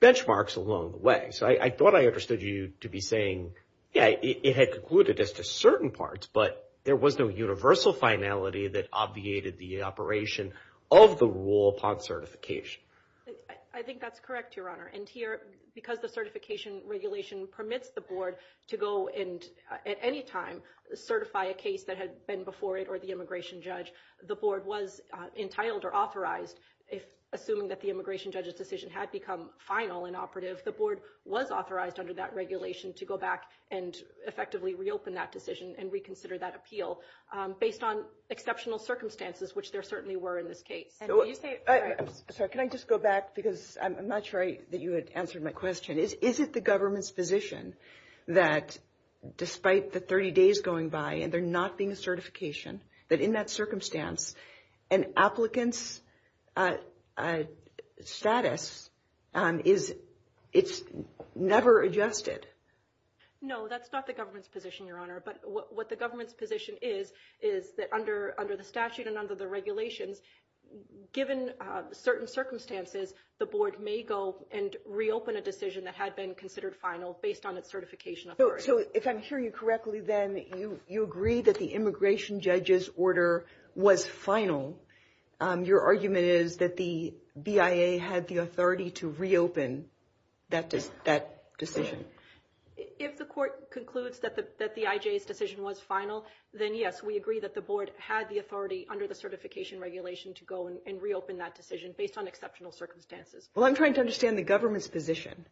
benchmarks along the way. So I thought I understood you to be saying, yeah, it had concluded as to certain parts, but there was no universal finality that obviated the operation of the rule upon certification. I think that's correct, Your Honor. And here, because the certification regulation permits the board to go and at any time certify a case that had been before it or the immigration judge, the board was entitled or authorized assuming that the immigration judge's decision had become final and operative. The board was authorized under that regulation to go back and effectively reopen that decision and reconsider that appeal based on exceptional circumstances, which there certainly were in this case. Can I just go back because I'm not sure that you had answered my question. Is it the government's position that despite the 30 days going by and there not being certification, that in that circumstance an applicant's status is never adjusted? No, that's not the government's position, Your Honor. But what the government's position is, is that under the statute and under the regulation, given certain circumstances, the board may go and reopen a decision that had been considered final based on the certification authority. If I'm hearing you correctly then, you agree that the immigration judge's order was final. Your argument is that the BIA had the authority to reopen that decision. If the court concludes that the IJ's decision was final, then yes, we agree that the board had the authority under the certification regulation to go and reopen that decision based on exceptional circumstances. Well, I'm trying to understand the government's position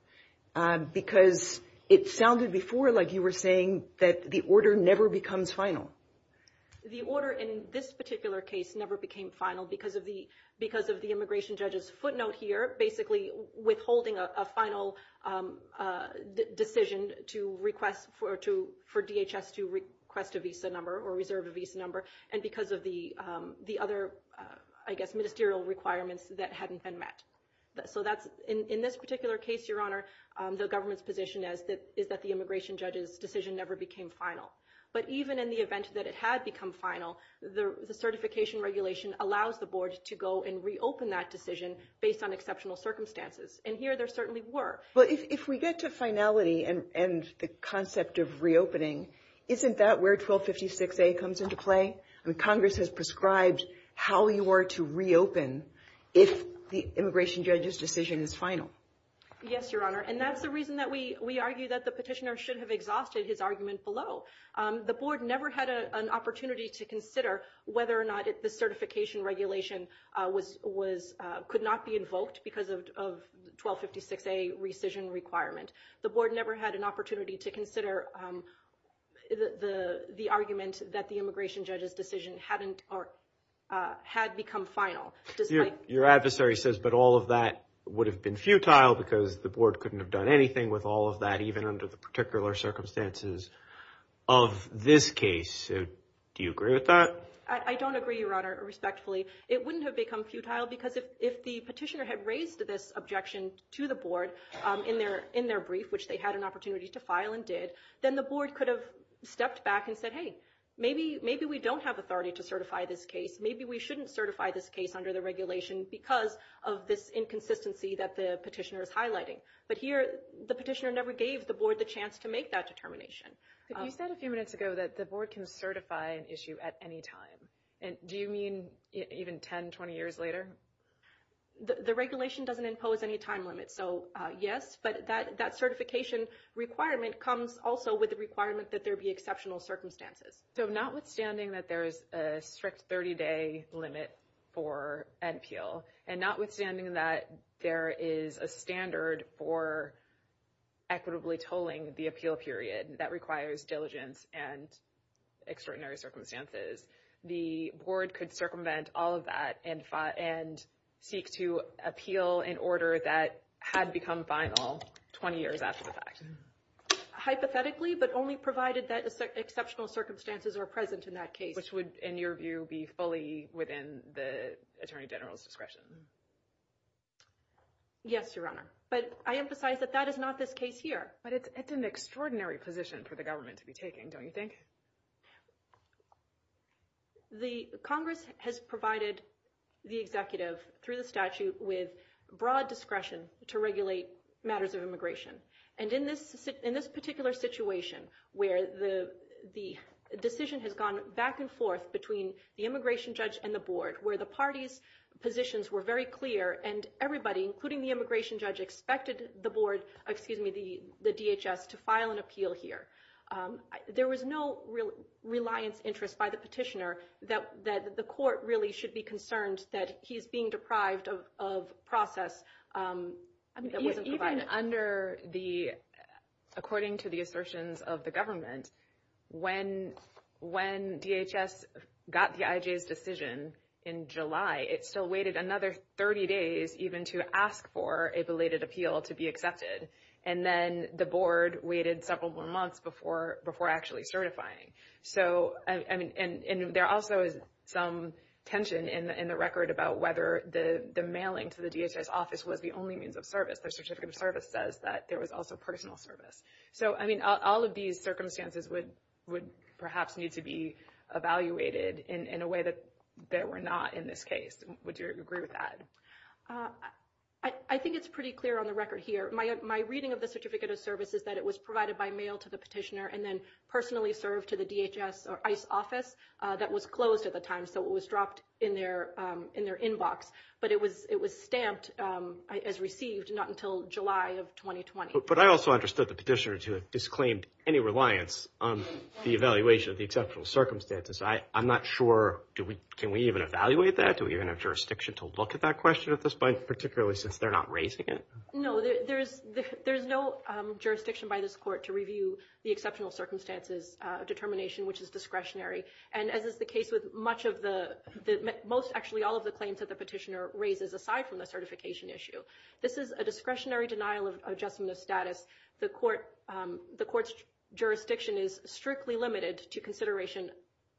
because it sounded before like you were saying that the order never becomes final. The order in this particular case never became final because of the immigration judge's footnote here, basically withholding a final decision to request for DHS to request a visa number or reserve a visa number and because of the other ministerial requirements that hadn't been met. In this particular case, Your Honor, the government's position is that the immigration judge's decision never became final. But even in the event that it had become final, the certification regulation allows the board to go and reopen that decision based on exceptional circumstances. And here there certainly were. But if we get to finality and the concept of reopening, isn't that where 1256A comes into play? Congress has prescribed how you are to reopen if the immigration judge's decision is final. Yes, Your Honor. And that's the reason that we argue that the petitioner should have exhausted his argument in the petition below. The board never had an opportunity to consider whether or not the certification regulation could not be invoked because of 1256A rescission requirement. The board never had an opportunity to consider the argument that the immigration judge's decision had become final. Your adversary says, but all of that would have been futile because the board couldn't have done anything with all of that even under the particular circumstances of this case. Do you agree with that? I don't agree, Your Honor, respectfully. It wouldn't have become futile because if the petitioner had raised this objection to the board in their brief, which they had an opportunity to file and did, then the board could have stepped back and said, hey, maybe we don't have authority to certify this case. Maybe we shouldn't certify this case under the regulation because of this inconsistency that the petitioner is highlighting. But here, the petitioner never gave the board the chance to make that determination. But you said a few minutes ago that the board can certify an issue at any time. Do you mean even 10, 20 years later? The regulation doesn't impose any time limit, so yes, but that certification requirement comes also with the requirement that there be exceptional circumstances. So notwithstanding that there's a strict 30-day limit for NPL and notwithstanding that there is a standard for equitably tolling the appeal period that requires diligence and extraordinary circumstances, the board could circumvent all of that and seek to appeal an order that had become final 20 years after the fact. Hypothetically, but only provided that exceptional circumstances were present in that case, which would, in your view, be fully within the Attorney General's discretion? Yes, Your Honor. But I emphasize that that is not the case here. But it's an extraordinary position for the government to be taking, don't you think? The Congress has provided the executive through the statute with broad discretion to regulate matters of immigration. And in this particular situation where the decision has gone back and forth between the immigration judge and the board, where the party's positions were very clear and everybody, including the immigration judge, expected the board, excuse me, the DHS, to file an appeal here. There was no reliance interest by the petitioner that the court really should be concerned that he's being deprived of process that wasn't provided. Even under the, according to the assertions of the government, when DHS got the IJ's decision in July, it still waited another 30 days even to ask for a belated appeal to be accepted. And then the board waited several more months before actually certifying. And there also is some tension in the record about whether the mailing to the DHS office was the only means of service. The certificate of service says that there was also personal service. So, I mean, all of these circumstances would perhaps need to be evaluated in a way that they were not in this case. Would you agree with that? I think it's pretty clear on the record here. My reading of the certificate of service is that it was provided by mail to the petitioner and then personally served to the DHS or ICE office that was closed at the time, so it was dropped in their inbox. But it was stamped as received not until July of 2020. But I also understood the petitioner to have disclaimed any reliance on the evaluation of the exceptional circumstances. I'm not sure, can we even evaluate that? Do we even have jurisdiction to look at that question at this point, particularly since they're not raising it? No, there's no jurisdiction by this court to review the exceptional circumstances determination, which is discretionary. And as is the case with much of the most, actually all of the claims that the petitioner raises aside from the certification issue. This is a discretionary denial of adjustment of status. The court's jurisdiction is strictly limited to consideration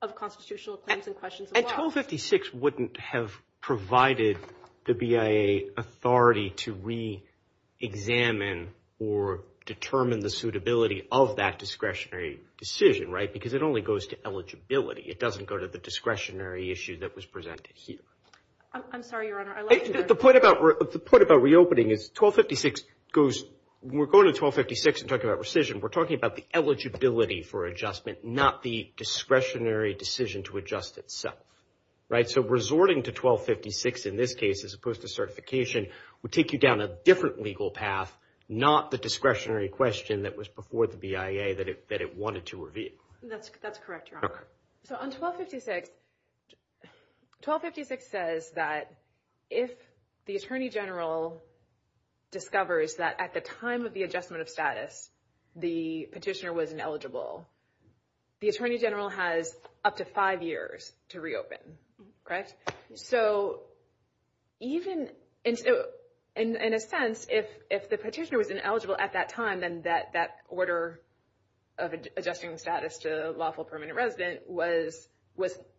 of constitutional claims and questions of the law. And 1256 wouldn't have provided the BIA authority to re-examine or determine the suitability of that discretionary decision, right? Because it only goes to eligibility. It doesn't go to the discretionary issue that was presented here. I'm sorry, Your Honor. The point about reopening is 1256 goes, when we're going to 1256 and talking about rescission, we're talking about the eligibility for adjustment, not the discretionary decision to adjust itself, right? So resorting to 1256 in this case as opposed to certification would take you down a different legal path, not the discretionary question that was before the BIA that it wanted to review. That's correct, Your Honor. So on 1256, 1256 says that if the Attorney General discovers that at the time of the adjustment of status, the petitioner was ineligible, the Attorney General has up to five years to reopen, okay? So even in a sense, if the petitioner was ineligible at that time, then that order of adjusting status to lawful permanent resident was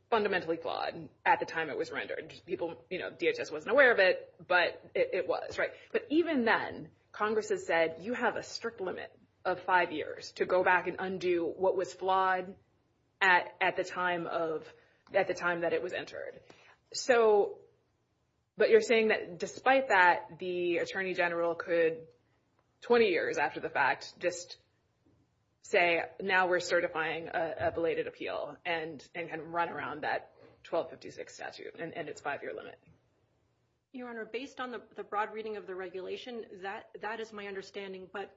fundamentally flawed at the time it was rendered. People, you know, DHS wasn't aware of it, but it was, right? But even then, Congress has said you have a strict limit of five years to go back and undo what was flawed at the time that it was entered. But you're saying that despite that, the Attorney General could 20 years after the fact just say, now we're certifying a belated appeal and run around that 1256 statute and its five-year limit. Your Honor, based on the broad reading of the regulation, that is my understanding, but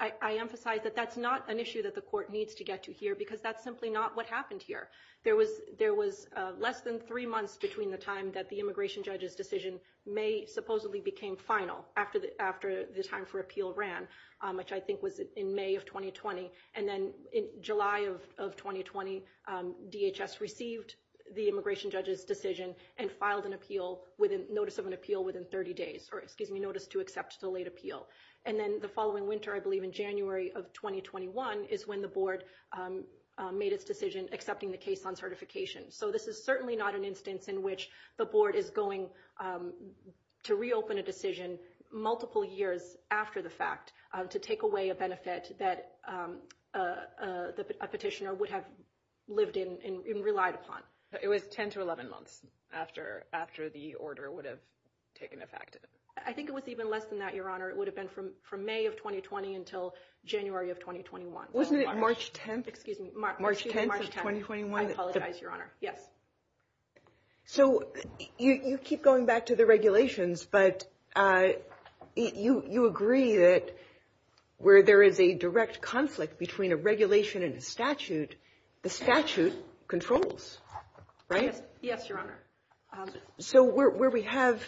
I emphasize that that's not an issue that the court needs to get to here because that's simply not what happened here. There was less than three months between the time that the immigration judge's decision may supposedly became final after the time for appeal ran, which I think was in May of 2020, and then in July of 2020, DHS received the immigration judge's decision and filed a notice of an appeal within 30 days, or excuse me, notice to accept the late appeal. And then the following winter, I believe in January of 2021, is when the board made its decision accepting the case on certification. So this is certainly not an instance in which the board is going to reopen a decision multiple years after the fact to take away a benefit that a petitioner would have lived in and relied upon. It was 10 to 11 months after the order would have taken effect. I think it was even less than that, Your Honor. It would have been from May of 2020 until January of 2021. Wasn't it March 10th? Excuse me. March 10th of 2021. I apologize, Your Honor. Yes. So you keep going back to the regulations, but you agree that where there is a direct conflict between a regulation and a statute, the statute controls, right? Yes, Your Honor. So where we have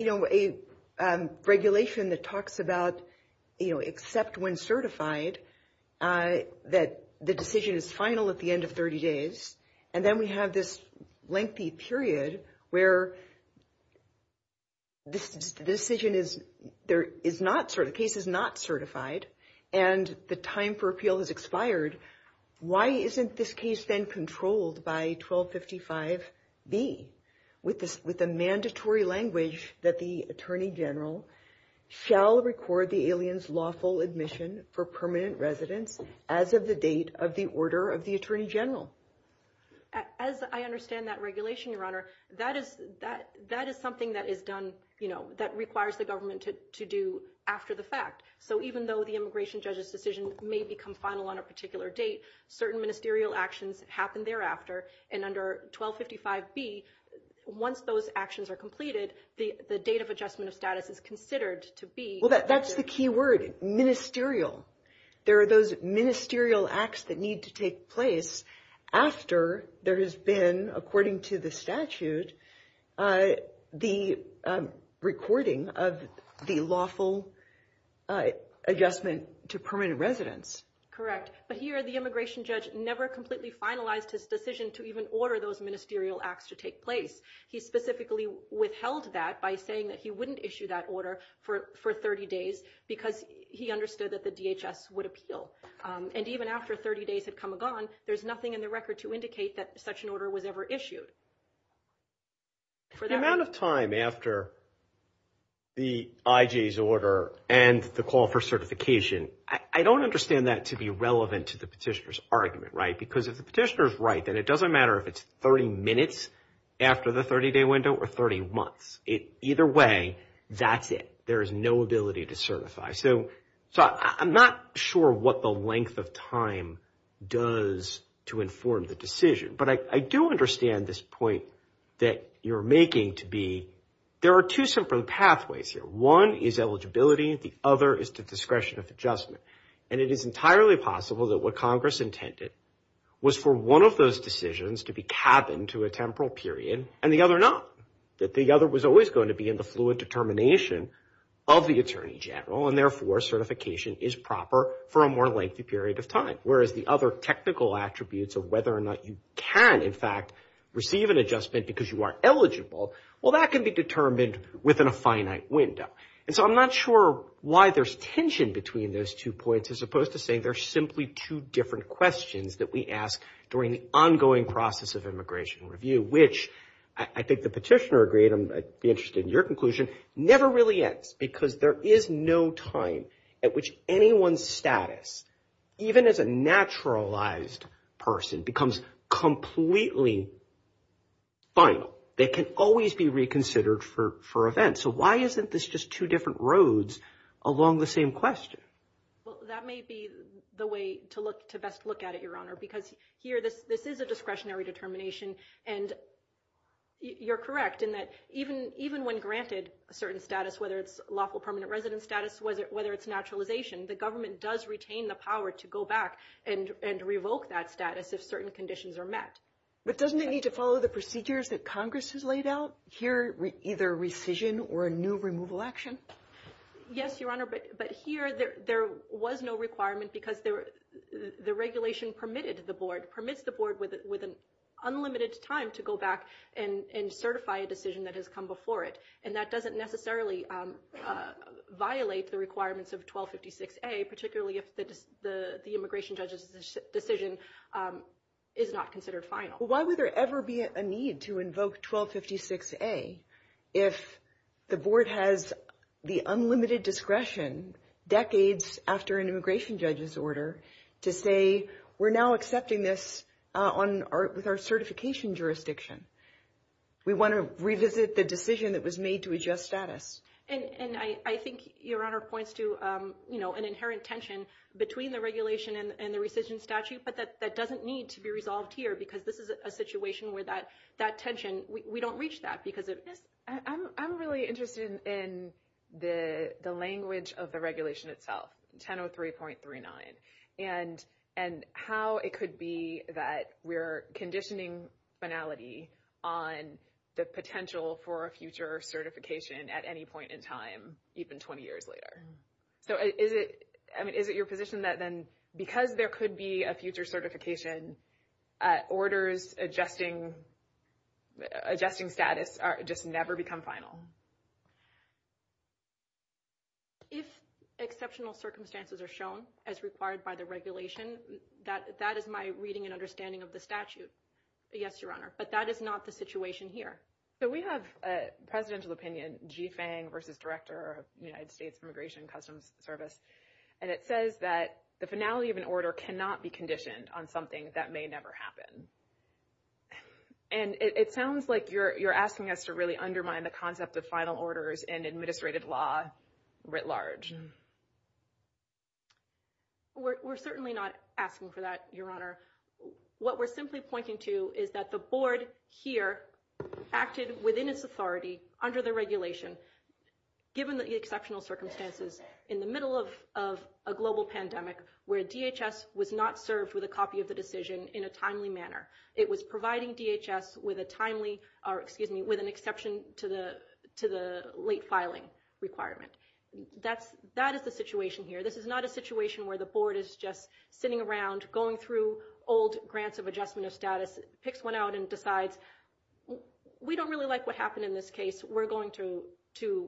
a regulation that talks about except when certified that the decision is final at the end of 30 days, and then we have this lengthy period where the decision is not, the case is not certified, and the time for appeal has expired, why isn't this case then controlled by 1255B with the mandatory language that the Attorney General shall record the alien's lawful admission for permanent residence as of the date of the order of the Attorney General? As I understand that regulation, Your Honor, that is something that is done, you know, that requires the government to do after the fact. So even though the immigration judge's decision may become final on a particular date, certain ministerial actions happen thereafter, and under 1255B, once those actions are completed, the date of adjustment of status is considered to be... Well, that's the key word, ministerial. There are those ministerial acts that need to take place after there has been, according to the statute, the recording of the lawful adjustment to permanent residence. Correct. But here, the immigration judge never completely finalized his decision to even order those ministerial acts to take place. He specifically withheld that by saying that he wouldn't issue that order for 30 days because he understood that the DHS would appeal. And even after 30 days had come and gone, there's nothing in the record to indicate that such an order was ever issued. For the amount of time after the IJ's order and the call for certification, I don't understand that to be relevant to the petitioner's argument, right? Because if the petitioner's right, then it doesn't matter if it's 30 minutes after the 30-day window or 30 months. Either way, that's it. There is no ability to certify. So I'm not sure what the length of time does to inform the decision. But I do understand this point that you're making to be, there are two simple pathways here. One is eligibility, the other is the discretion of adjustment. And it is entirely possible that what Congress intended was for one of those decisions to be cabined to a temporal period and the other not. That the other was always going to be in the fluid determination of the Attorney General and therefore certification is proper for a more lengthy period of time. Whereas the other technical attributes of whether or not you can in fact receive an adjustment because you are eligible, well that can be determined within a finite window. And so I'm not sure why there's tension between those two points as opposed to saying they're simply two different questions that we ask during the ongoing process of immigration review, which I think the petitioner agreed, I'd be interested in your conclusion, never really ends because there is no time at which anyone's status, even as a naturalized person, becomes completely final. They can always be reconsidered for events. So why isn't this just two different roads along the same question? Well, that may be the way to best look at it, Your Honor, because here this is a discretionary determination and you're correct in that even when granted a certain status, whether it's lawful permanent residence status, whether it's naturalization, the government does retain the power to go back and revoke that status if certain conditions are met. But doesn't it need to follow the procedures that Congress has laid out here, either rescission or a new removal action? Yes, Your Honor, but here there was no requirement because the regulation permitted the board, permits the board with unlimited time to go back and certify a decision that has come before it. And that doesn't necessarily violate the law, particularly if the immigration judge's decision is not considered final. Why would there ever be a need to invoke 1256A if the board has the unlimited discretion decades after an immigration judge's order to say we're now accepting this with our certification jurisdiction. We want to revisit the decision that was made to adjust status. And I think Your Honor points to an inherent tension between the regulation and the rescission statute, but that doesn't need to be resolved here because this is a situation where that tension, we don't reach that. I'm really interested in the language of the regulation itself, 1003.39, and how it could be that we're conditioning finality on the potential for a future certification at any point in time, even 20 years later. So is it your position that then because there could be a future certification, orders adjusting status just never become final? If exceptional circumstances are shown as required by the regulation, that is my reading and understanding of the statute. Yes, Your Honor. But that is not the situation here. So we have a presidential opinion, G. Fang v. Director of United States Immigration Customs Service, and it says that the finality of an order cannot be conditioned on something that may never happen. And it sounds like you're asking us to really undermine the concept of final orders and administrative law writ large. We're certainly not asking for that, Your Honor. What we're simply pointing to is that the board here acted within its authority under the regulation, given the exceptional circumstances, in the middle of a global pandemic where DHS was not served with a copy of the decision in a timely manner. It was providing DHS with an exception to the late filing requirement. That is the situation here. This is not a situation where the board is just sitting around going through old grants of adjustment of status, picks one out and decides, we don't really like what happened in this case. We're going to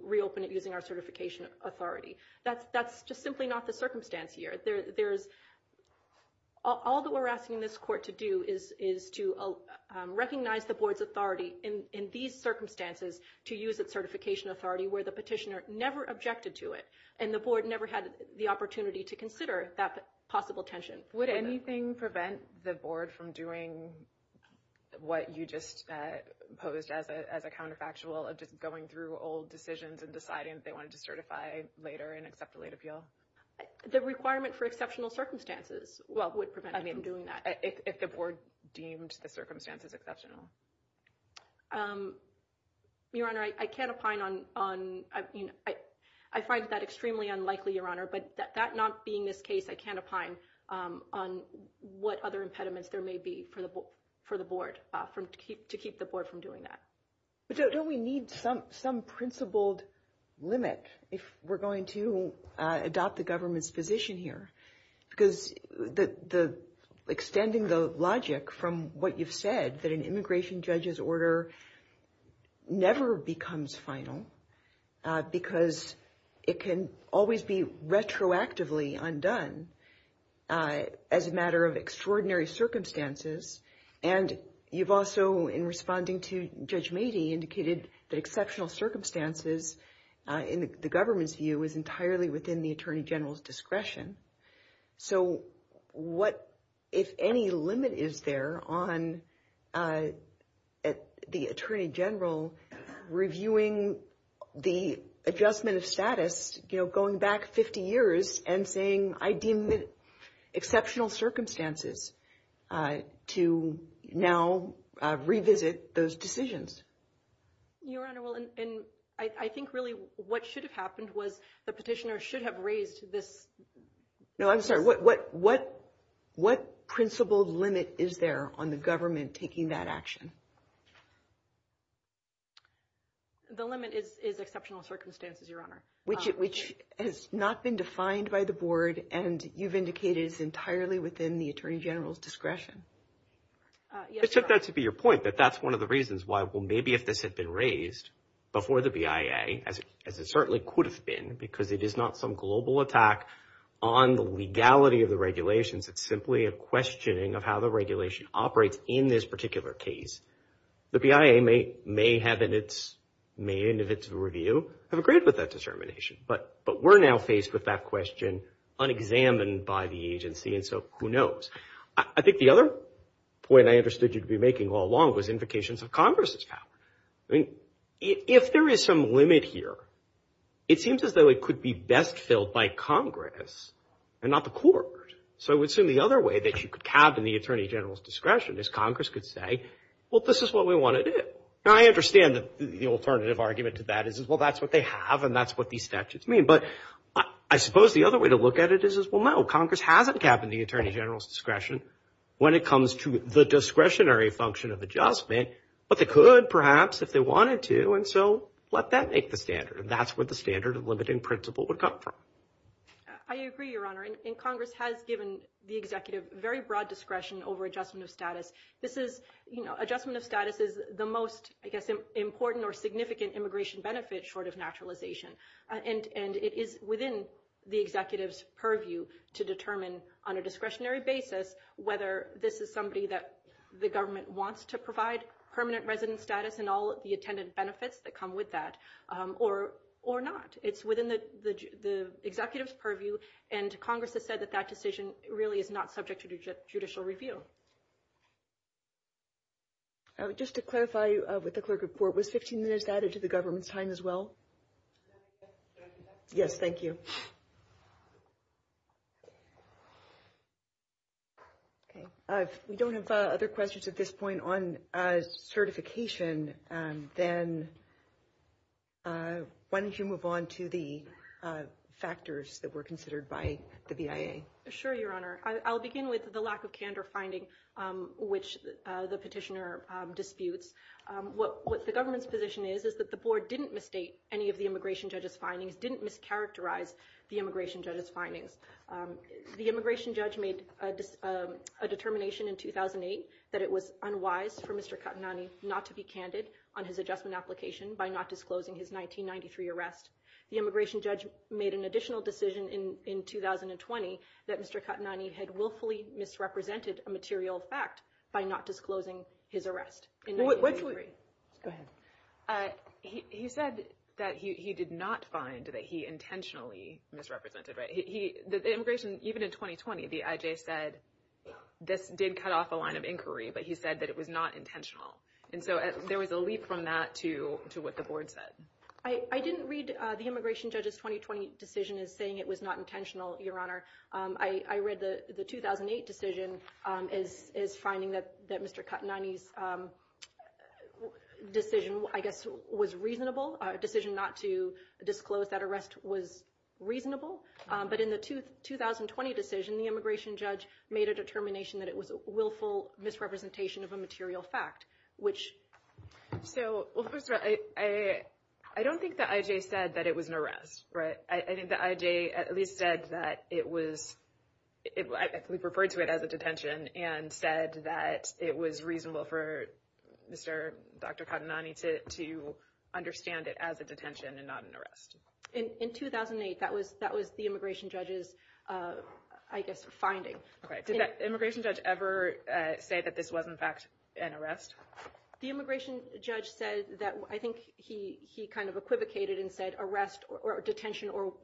reopen it using our certification authority. That's just simply not the circumstance here. All that we're asking this court to do is to recognize the board's authority in these circumstances to use its certification authority where the petitioner never objected to it and the board never had the opportunity to consider that possible tensions. Would anything prevent the board from doing what you just posed as a counterfactual of just going through old decisions and deciding if they wanted to certify later and accept the late appeal? The requirement for exceptional circumstances would prevent them from doing that. If the board deemed the circumstances exceptional. Your Honor, I can't opine on... I find that extremely unlikely, Your Honor, but that not being this case, I can't opine on what other impediments there may be for the board to keep the board from doing that. Don't we need some principled limit if we're going to adopt the government's position here? Extending the logic from what you've said, that an immigration judge's order never becomes final because it can always be retroactively undone as a matter of extraordinary circumstances and you've also, in responding to Judge Meadey, indicated that exceptional circumstances in the government's view is entirely within the Attorney General's discretion. If any limit is there on the Attorney General reviewing the adjustment of status going back 50 years and saying I deemed it exceptional circumstances to now revisit those decisions? Your Honor, I think really what should have happened was the petitioner should have raised this... No, I'm sorry. What principled limit is there on the government taking that action? The limit is exceptional circumstances, Your Honor. Which has not been defined by the Board and you've indicated it's entirely within the Attorney General's Except that to be your point, but that's one of the reasons why, well, maybe if this had been raised before the BIA, as it certainly could have been, because it is not some global attack on the legality of the regulations, it's simply a questioning of how the regulation operates in this particular case. The BIA may have in its review have agreed with that determination, but we're now faced with that question unexamined by the agency, and so who knows? I think the other point I understood you'd be making all along was indications of Congress's power. If there is some limit here, it seems as though it could be best filled by Congress and not the Court. So I would assume the other way that you could have in the Attorney General's discretion is Congress could say, well, this is what we want to do. I understand the alternative argument to that is, well, that's what they have and that's what these statutes mean, but I suppose the other way to look at it is, well, no, Congress hasn't kept the Attorney General's discretion when it comes to the discretionary function of adjustment, but they could, perhaps, if they wanted to, and so let that make the standard. That's where the standard of limiting principle would come from. I agree, Your Honor, and Congress has given the Executive very broad discretion over adjustment of status. Adjustment of status is the most important or significant immigration benefit short of naturalization, and it is within the Executive's purview to determine on a discretionary basis whether this is somebody that the government wants to provide permanent residence status and all of the attendant benefits that come with that or not. It's within the Executive's purview, and Congress has said that that decision really is not subject to judicial review. Just to clarify with the clerk of court, was 15 minutes added to the government time as well? Yes, thank you. If we don't have other questions at this point on certification, then why don't you move on to the other factors that were considered by the BIA? Sure, Your Honor. I'll begin with the lack of candor finding which the petitioner disputes. What the government's position is is that the board didn't misstate any of the immigration judge's findings, didn't mischaracterize the immigration judge's findings. The immigration judge made a determination in 2008 that it was unwise for Mr. Katanani not to be candid on his adjustment application by not disclosing his 1993 arrest. The immigration judge made an additional decision in 2020 that Mr. Katanani had willfully misrepresented a material fact by not disclosing his arrest. Go ahead. He said that he did not find that he intentionally misrepresented. The immigration, even in 2020, the IJ said this did cut off a line of inquiry, but he said that it was not intentional. There was a leap from that to what the board said. I didn't read the immigration judge's 2020 decision as saying it was not intentional, Your Honor. I read the 2008 decision as finding that Mr. Katanani's decision, I guess, was reasonable. A decision not to disclose that arrest was reasonable. But in the 2020 decision, the immigration judge made a determination that it was a willful misrepresentation of a material fact. First of all, I don't think the IJ said that it was an arrest. I think the IJ at least said that it was referred to it as a detention and said that it was reasonable for Dr. Katanani to understand it as a detention and not an arrest. In 2008, that was the immigration judge's finding. Did the immigration judge ever say that this was, in fact, an arrest? The immigration judge said that I think he equivocated and said arrest or detention or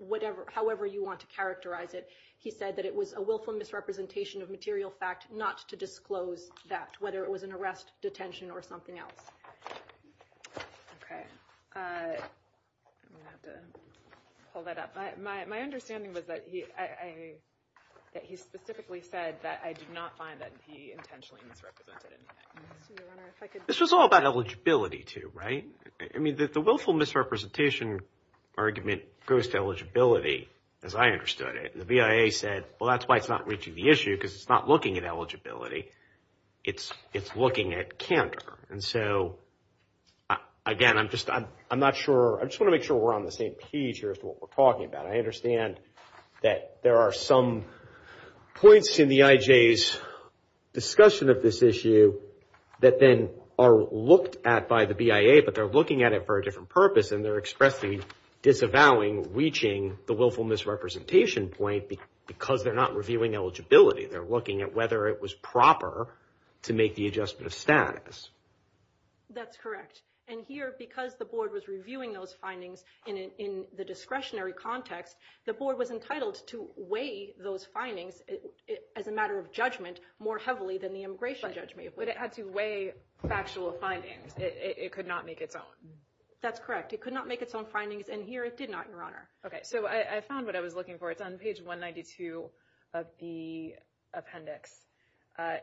however you want to characterize it, he said that it was a willful misrepresentation of material fact not to disclose that, whether it was an arrest, detention, or something else. Okay. I'm going to have to pull that up. My understanding was that he specifically said that I did not find that he intentionally misrepresented anything. This was all about eligibility, too, right? I mean, the willful misrepresentation argument goes to eligibility, as I understood it. The VIA said, well, that's why it's not reaching the issue because it's not looking at eligibility. It's looking at candor. Again, I'm just not sure. I just want to make sure we're on the same page here as to what we're talking about. I understand that there are some points in the IJ's discussion of this issue that then are looked at by the VIA, but they're looking at it for a different purpose, and they're expressly disavowing reaching the willful misrepresentation point because they're not reviewing eligibility. They're looking at whether it was proper to make the adjustment of status. That's correct. Here, because the board was reviewing those findings in the discretionary context, the board was entitled to weigh those findings as a matter of judgment more heavily than the immigration judgment. But it had to weigh factual findings. It could not make its own. That's correct. It could not make its own findings, and here it did not, Your Honor. I found what I was looking for. It's on page 192 of the appendix.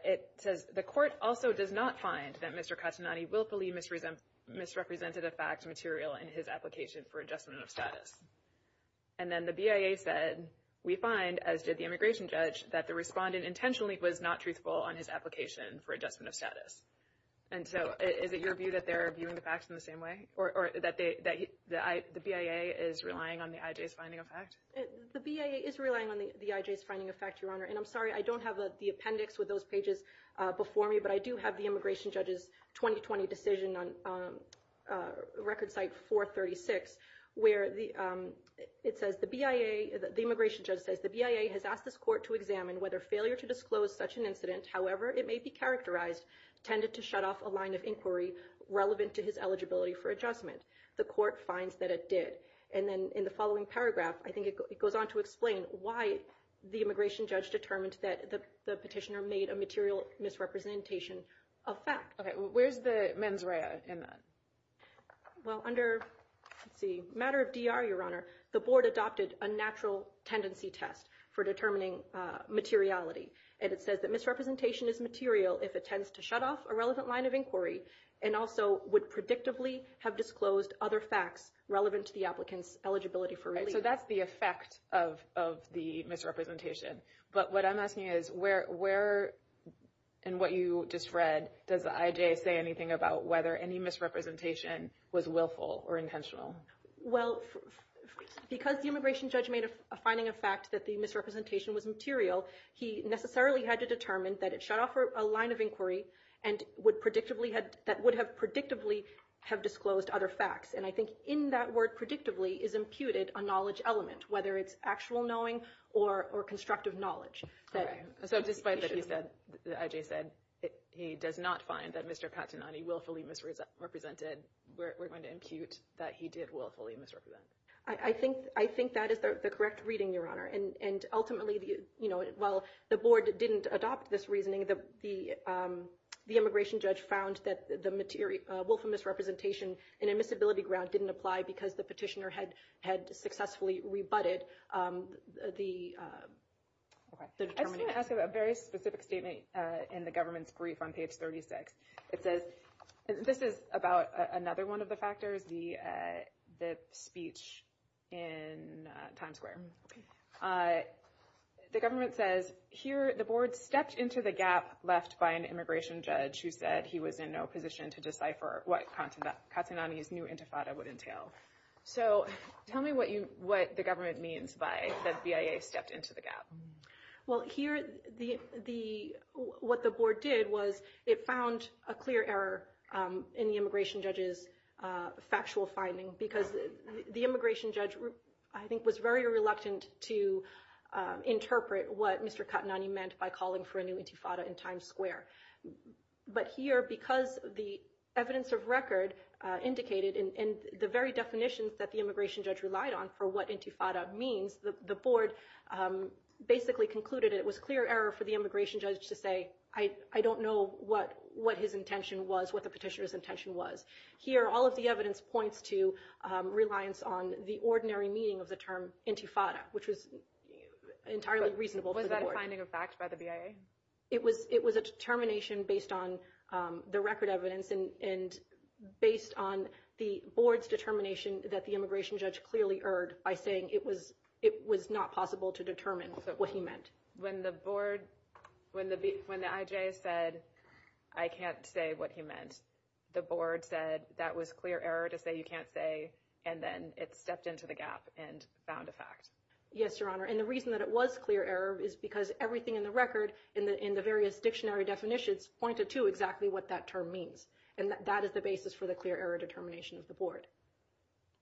It says the court also does not find that Mr. Castagnani willfully misrepresented a fact material in his application for adjustment of status. Then the BIA said we find, as did the immigration judge, that the respondent intentionally was not truthful on his application for adjustment of status. Is it your view that they're viewing the facts in the same way, or that the BIA is relying on the IJ's finding of facts? The BIA is relying on the IJ's finding of facts, Your Honor. I'm sorry, I don't have the appendix with those pages before me, but I do have the immigration judge's 2020 decision on record site 436 where the immigration judge says the BIA has asked this court to examine whether failure to disclose such an incident, however it may be characterized, tended to shut off a line of inquiry relevant to his eligibility for adjustment. The court finds that it did, and then in the following paragraph, I think it goes on to explain why the immigration judge determined that the petitioner made a material misrepresentation of facts. Okay, where's the mens rea in that? Well, under the matter of DR, Your Honor, the board adopted a natural tendency test for determining materiality, and it says that misrepresentation is material if it tends to shut off a relevant line of inquiry and also would predictably have disclosed other facts relevant to the applicant's eligibility for release. So that's the effect of the misrepresentation, but what I'm asking is where in what you just read, does the misrepresentation was willful or intentional? Well, because the immigration judge made a finding of facts that the misrepresentation was material, he necessarily had to determine that it shut off a line of inquiry and that would have predictably have disclosed other facts, and I think in that word predictably is imputed a knowledge element, whether it's actual knowing or constructive knowledge. Okay, so despite what you said, he does not find that Mr. Katanani willfully misrepresented and we're going to impute that he did willfully misrepresent. I think that is the correct reading, Your Honor, and ultimately while the board didn't adopt this reasoning, the immigration judge found that the willful misrepresentation in admissibility grounds didn't apply because the petitioner had successfully rebutted the determination. I was going to ask about a very specific statement in the government's brief on page 36. It says, this is about another one of the factors, the speech in Times Square. The government says, here the board stepped into the gap left by an immigration judge who said he was in no position to decipher what Katanani's new intifada would entail. So tell me what the government means by the BIA stepped into the gap. Well, here what the board did was it found a clear error in the immigration judge's factual finding because the immigration judge I think was very reluctant to interpret what Mr. Katanani meant by calling for an intifada in Times Square. But here, because the evidence of record indicated in the very definitions that the immigration judge relied on for what intifada means, the board basically concluded it was clear error for the immigration judge to say, I don't know what his intention was, what the petitioner's intention was. Here, all of the evidence points to reliance on the ordinary meaning of the term intifada, which was entirely reasonable for the board. Was that a finding of facts by the BIA? It was a determination based on the record evidence and based on the board's determination that the immigration judge clearly erred by saying it was not possible to determine what he meant. When the IJ said I can't say what he meant, the board said that was clear error to say you can't say and then it stepped into the gap and found a fact. Yes, Your Honor. And the reason that it was clear error is because everything in the record, in the various dictionary definitions, pointed to exactly what that term means. And that is the basis for the clear error determination of the board.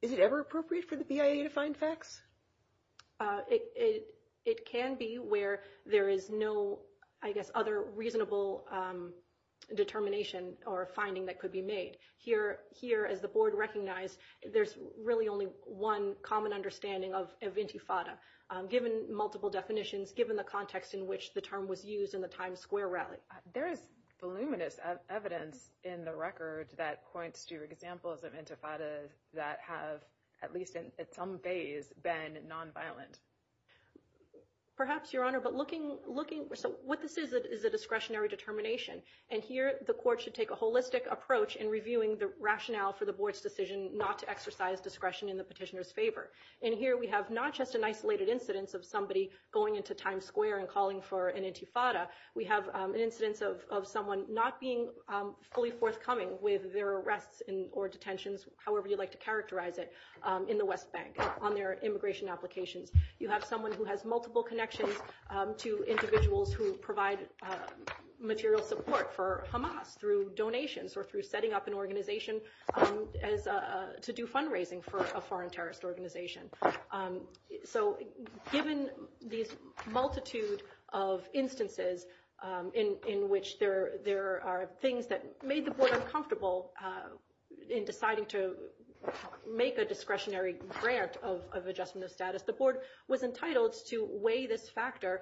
Is it ever appropriate for the BIA to find facts? It can be where there is no other reasonable determination or finding that could be made. Here, as the board recognized, there's really only one common understanding of intifada, given multiple definitions, given the context in which the term was used in the Times Square record. There is voluminous evidence in the record that points to examples of intifadas that have, at least in some ways, been nonviolent. Perhaps, Your Honor, but looking what this is is a discretionary determination. And here, the court should take a holistic approach in reviewing the rationale for the board's decision not to exercise discretion in the petitioner's favor. And here we have not just an isolated incidence of somebody going into Times Square and calling for an intifada, we have an incidence of someone not being fully forthcoming with their arrest or detentions, however you like to characterize it, in the West Bank on their immigration application. You have someone who has multiple connections to individuals who provide material support for Hamas through donations or through setting up an organization to do fundraising for a foreign terrorist organization. So, given this multitude of instances in which there are things that made the board uncomfortable in deciding to make a discretionary grant of adjusting the status, the board was entitled to weigh this factor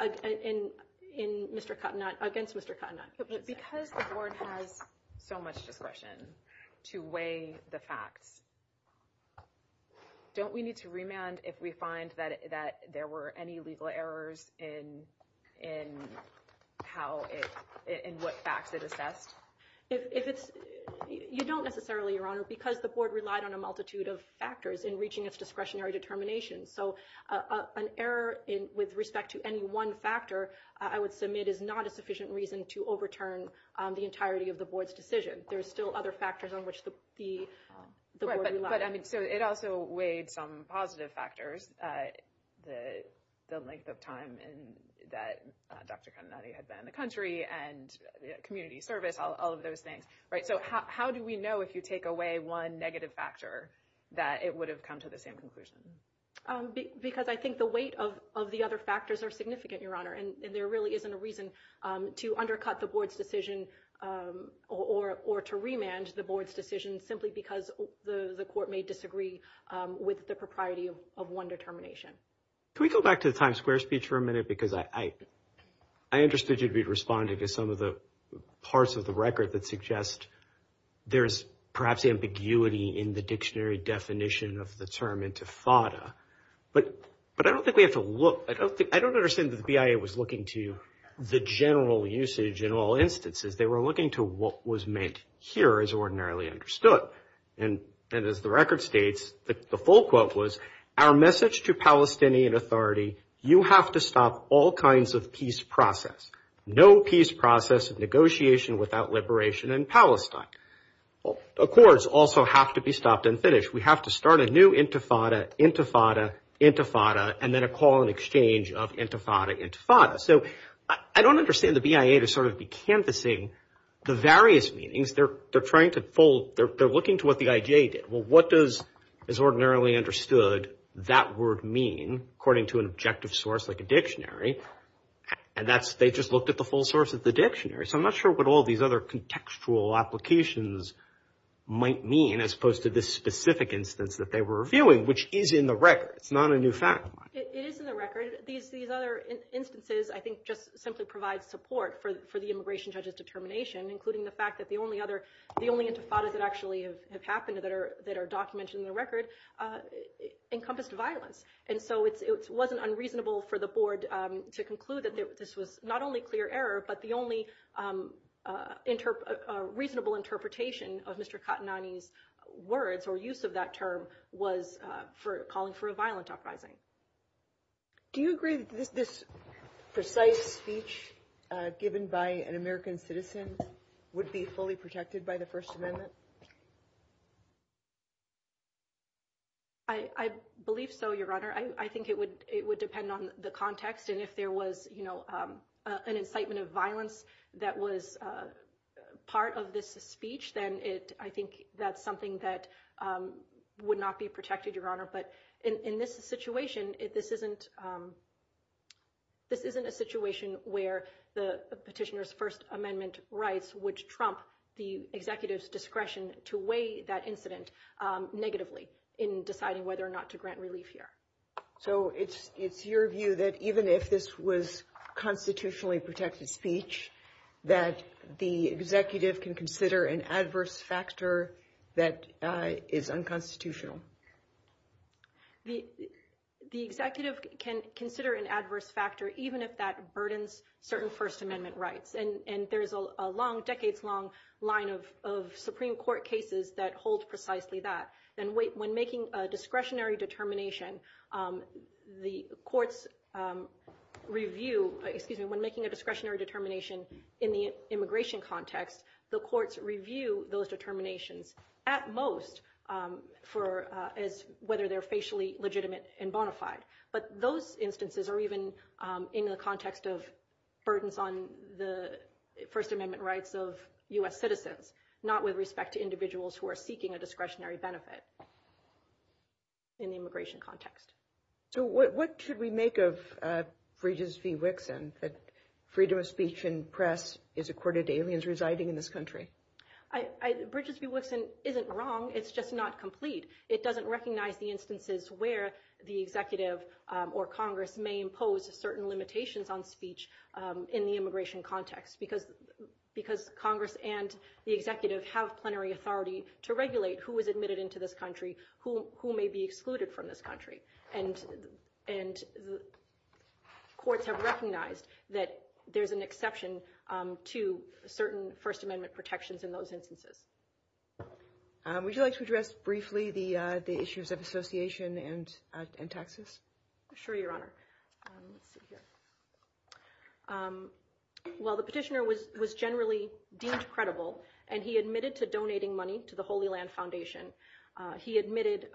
against Mr. Cottenat. Because the board has so much discretion to weigh the facts, don't we need to remand if we find that there were any legal errors in what facts it assessed? You don't necessarily, Your Honor, because the board relied on a multitude of factors in reaching its discretionary determination. So, an error with respect to any one factor I would submit is not a sufficient reason to overturn the entirety of the board's decision. There are still other factors on which the board relies. But it also weighed some positive factors. The length of time that Dr. Cottenat had been in the country and community service, all of those things. So, how do we know if you take away one negative factor that it would have come to the same conclusion? Because I think the weight of the other factors are significant, Your Honor, and there really isn't a reason to undercut the board's decision or to remand the board's decision simply because the court may disagree with the propriety of one determination. Can we go back to the Times Square speech for a minute? Because I understood you'd be responding to some of the parts of the record that suggest there's perhaps ambiguity in the dictionary definition of the term intifada. But I don't think we have to look. I don't understand that the BIA was looking to the general usage in all instances. They were looking to what was meant here as ordinarily understood. And as the record states, the full quote was, our message to Palestinian authority, you have to stop all kinds of peace process. No peace process of negotiation without liberation in Palestine. Accords also have to be stopped and finished. We have to start a new intifada, intifada, intifada, and then a call and exchange of intifada, intifada. So, I don't understand the BIA to sort of be canvassing the various meanings. They're trying to hold, they're looking to what the IJ did. Well, what does as ordinarily understood that word mean according to an objective source like a dictionary? And that's they just looked at the full source of the dictionary. So, I'm not sure what all these other contextual applications might mean as opposed to this specific instance that they were reviewing, which is in the record. It's not a new fact. It is in the record. These other instances I think just simply provide support for the immigration judge's determination, including the fact that the only intifada that actually has happened that are documented in the record encompassed violence. So, it wasn't unreasonable for the board to conclude that this was not only clear error, but the only reasonable interpretation of Mr. Khatnani's words or use of that term was for calling for a violent uprising. Do you agree with this precise speech given by an American citizen would be fully protected by the First Amendment? I believe so, Your Honor. I think it would depend on the context. And if there was an incitement of violence that was part of this speech, then I think that's something that would not be protected, Your Honor. But in this situation, this isn't a situation where the petitioner's First Amendment rights would trump the executive's discretion to weigh that incident negatively in deciding whether or not to grant relief here. So, it's your view that even if this was constitutionally protected speech, that the executive can consider an adverse factor that is unconstitutional? The executive can consider an adverse factor even if that burdens certain First Amendment rights. And there's a long, decades long line of Supreme Court cases that hold precisely that. And when making a discretionary determination, the courts review, excuse me, when making a discretionary determination in the immigration context, the courts review those determinations at most whether they're facially legitimate and bona fide. But those instances are even in the context of burdens on the First Amendment rights of U.S. citizens, not with respect to individuals who are seeking a discretionary benefit in the immigration context. So, what should we make of Bridges v. Wixon, that freedom of speech in press is accorded to aliens residing in this country? Bridges v. Wixon isn't wrong, it's just not complete. It doesn't recognize the instances where the executive or Congress may impose certain limitations on speech in the immigration context because Congress and the executive have plenary authority to regulate who is admitted into this country, who may be excluded from this country. And courts have recognized that there's an exception to certain First Amendment protections in those instances. Would you like to address briefly the issues of association and taxes? Sure, Your Honor. Well, the petitioner was generally deemed credible and he admitted to donating money to the Holy Land Foundation. He admitted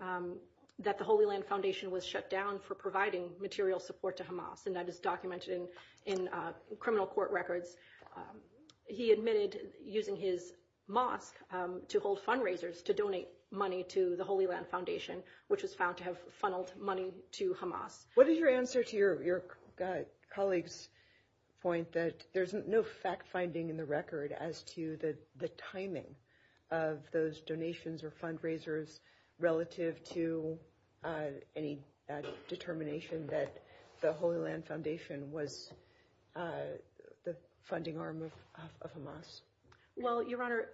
that the Holy Land Foundation was shut down for providing material support to Hamas, and that is documented in criminal court records. He admitted using his mosque to hold fundraisers to donate money to the Holy Land Foundation, which is found to have funneled money to Hamas. What is your answer to your colleague's point that there's no fact-finding in the record as to the timing of those donations or fundraisers relative to any determination that the Holy Land Foundation was the Well, Your Honor,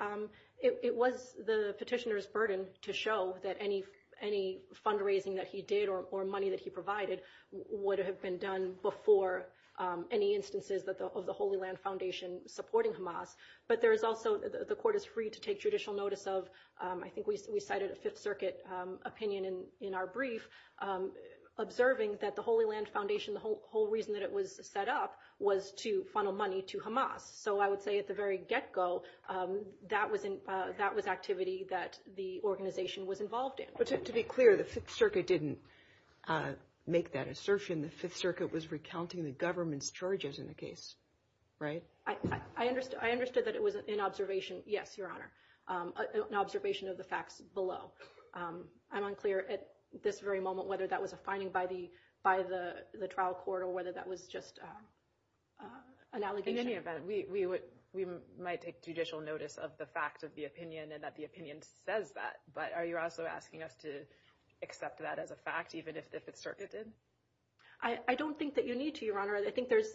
it was the petitioner's burden to show that any fundraising that he did or money that he provided would have been done before any instances of the Holy Land Foundation supporting Hamas. But there is also, the court is free to take judicial notice of, I think we cited a Fifth Circuit opinion in our brief, observing that the Holy Land Foundation, the whole reason that it was set up was to funnel money to Hamas. So I would say at the very get-go, that was activity that the organization was involved in. But to be clear, the Fifth Circuit didn't make that assertion. The Fifth Circuit was recounting the government's charges in the case, right? I understood that it was an observation. Yes, Your Honor. An observation of the facts below. I'm unclear at this very moment whether that was a finding by the trial court or whether that was just an allegation. In any event, we might take judicial notice of the facts of the opinion and that the opinion says that. But are you also asking us to accept that as a fact, even if it's circuited? I don't think that you need to, Your Honor. I think there's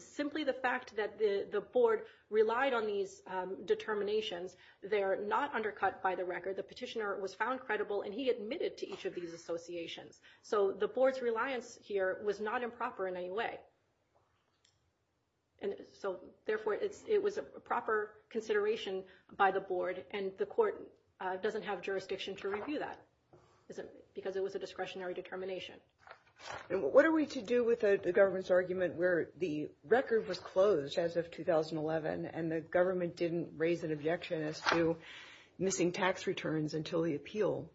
simply the fact that the board relied on these determinations. They're not undercut by the record. The petitioner was found credible, and he admitted to each of these associations. So the board's reliance here was not improper in any way. Therefore, it was a proper consideration by the board, and the court doesn't have jurisdiction to review that because it was a discretionary determination. What are we to do with the government's argument where the record was closed as of 2011 and the government didn't raise an objection as to missing tax returns until the appeal?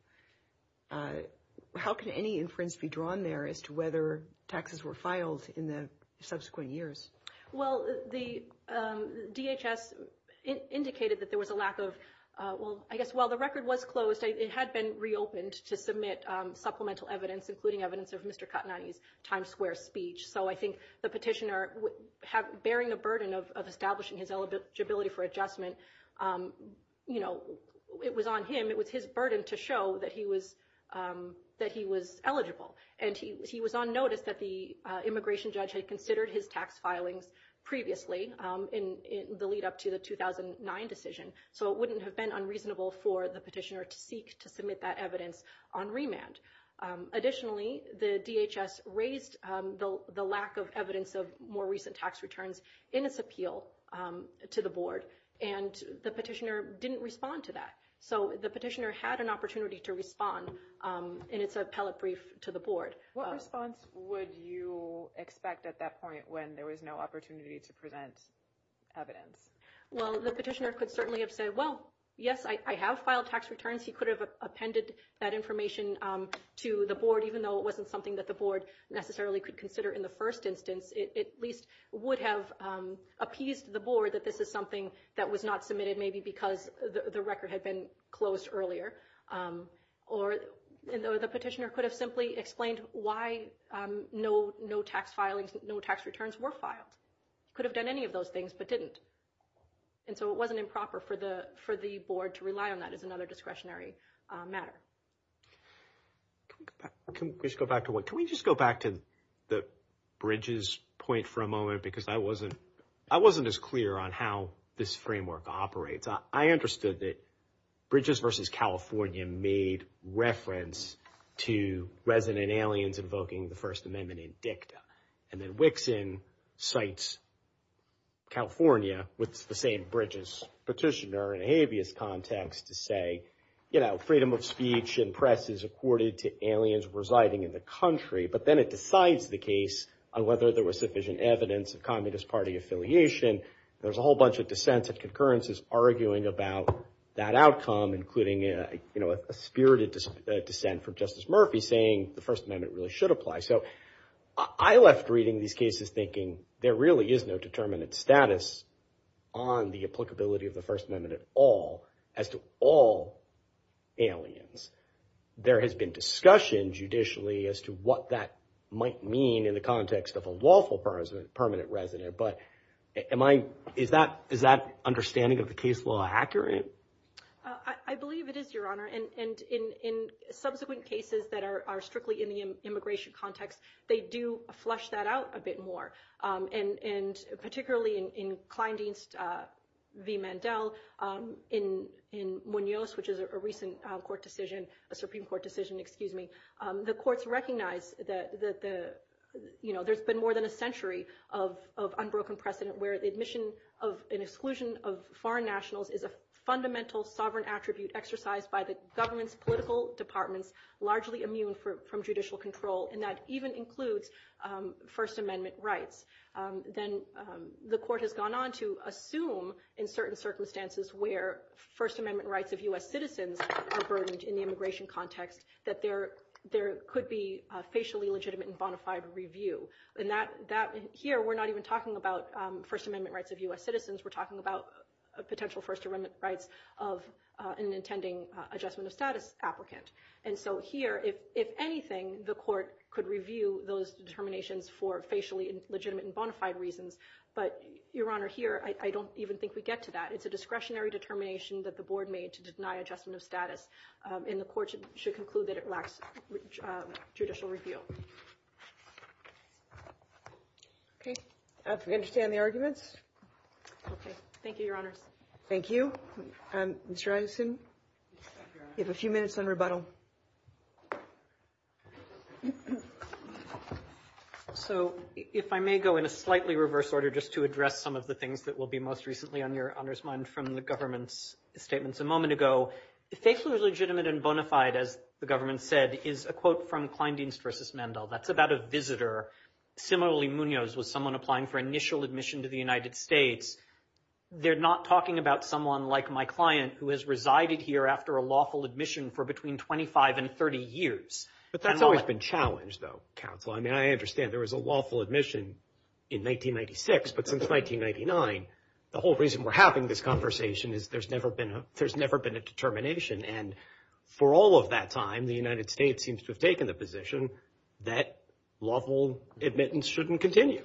How can any inference be drawn there as to whether taxes were filed in the subsequent years? Well, the DHS indicated that there was a lack of Well, I guess while the record was closed, it had been reopened to submit supplemental evidence, including evidence of Mr. Katnatti's Times Square speech. So I think the petitioner bearing the burden of establishing his eligibility for adjustment, you know, it was on him, it was his burden to show that he was eligible. And he was on notice that the immigration judge had considered his tax filings previously in the lead up to the 2009 decision, so it wouldn't have been unreasonable for the petitioner to seek to submit that evidence on remand. Additionally, the DHS raised the lack of evidence of more recent tax returns in its appeal to the board, and the petitioner didn't respond to that. So the petitioner had an opportunity to respond in its appellate brief to the board. What response would you expect at that point when there was no opportunity to present evidence? Well, the petitioner could certainly have said, well, yes, I have filed tax returns. He could have appended that information to the board, even though it wasn't something that the board necessarily could consider in the first instance. It at least would have appeased the board that this is something that was not submitted maybe because the record had been closed earlier. Or the petitioner could have simply explained why no tax filings, no tax returns were filed. Could have done any of those things, but didn't. And so it wasn't improper for the board to rely on that as another discretionary matter. Can we just go back to Bridges' point for a moment? Because I wasn't as clear on how this framework operates. I understood that Bridges versus California made reference to resident aliens invoking the First Amendment in dicta. And then Wixson cites California with the same Bridges petitioner in a habeas context to say, you know, freedom of speech and press is accorded to aliens residing in the country. But then it decides the case on whether there was sufficient evidence of Communist Party affiliation. There's a whole bunch of dissents of concurrences arguing about that outcome, including, you know, a spirited dissent from Justice Murphy saying the First Amendment really should apply. So I left reading these cases thinking there really is no determinant of status on the applicability of the First Amendment at all as to all aliens. There has been discussion judicially as to what that might mean in the context of a lawful permanent resident. But is that understanding of the case law accurate? I believe it is, Your Honor. In subsequent cases that are strictly in the immigration context, they do flush that out a bit more. And particularly in Kleindienst v. Mandel in Munoz, which is a recent Supreme Court decision, excuse me, the courts recognize that there's been more than a century of unbroken precedent where the admission of an exclusion of foreign nationals is a fundamental sovereign attribute exercised by the government's political departments, largely immune from judicial control. And that even includes First Amendment rights. Then the court has gone on to assume in certain circumstances where First Amendment rights of U.S. citizens are burdened in the immigration context that there could be a facially legitimate and bona fide review. And here, we're not even talking about First Amendment rights of U.S. citizens. We're talking about potential First Amendment rights of an intending adjustment of status applicant. And so here, if anything, the court could review those determinations for facially legitimate and bona fide reasons. But, Your Honor, here, I don't even think we get to that. It's a discretionary determination that the board made to deny adjustment of status. In the court, it should conclude that it lacks judicial review. Okay. I understand the arguments. Okay. Thank you, Your Honor. Thank you. You have a few minutes on rebuttal. So, if I may go in a slightly reverse order just to address some of the things that will be most recently on your Honor's mind from the government's statements a moment ago, facially legitimate and bona fide, as the government said, is a quote from Kleindienst versus Mandel. That's about a visitor, similarly Munoz, with someone applying for initial admission to the United States. They're not talking about someone like my client who has resided here after a lawful admission for between 25 and 30 years. But that's always been challenged, though, counsel. I mean, I understand there was a lawful admission in 1996, but since 1999, the whole reason we're having this conversation is there's never been a determination. And for all of that time, the United States seems to have taken the position that lawful admittance shouldn't continue.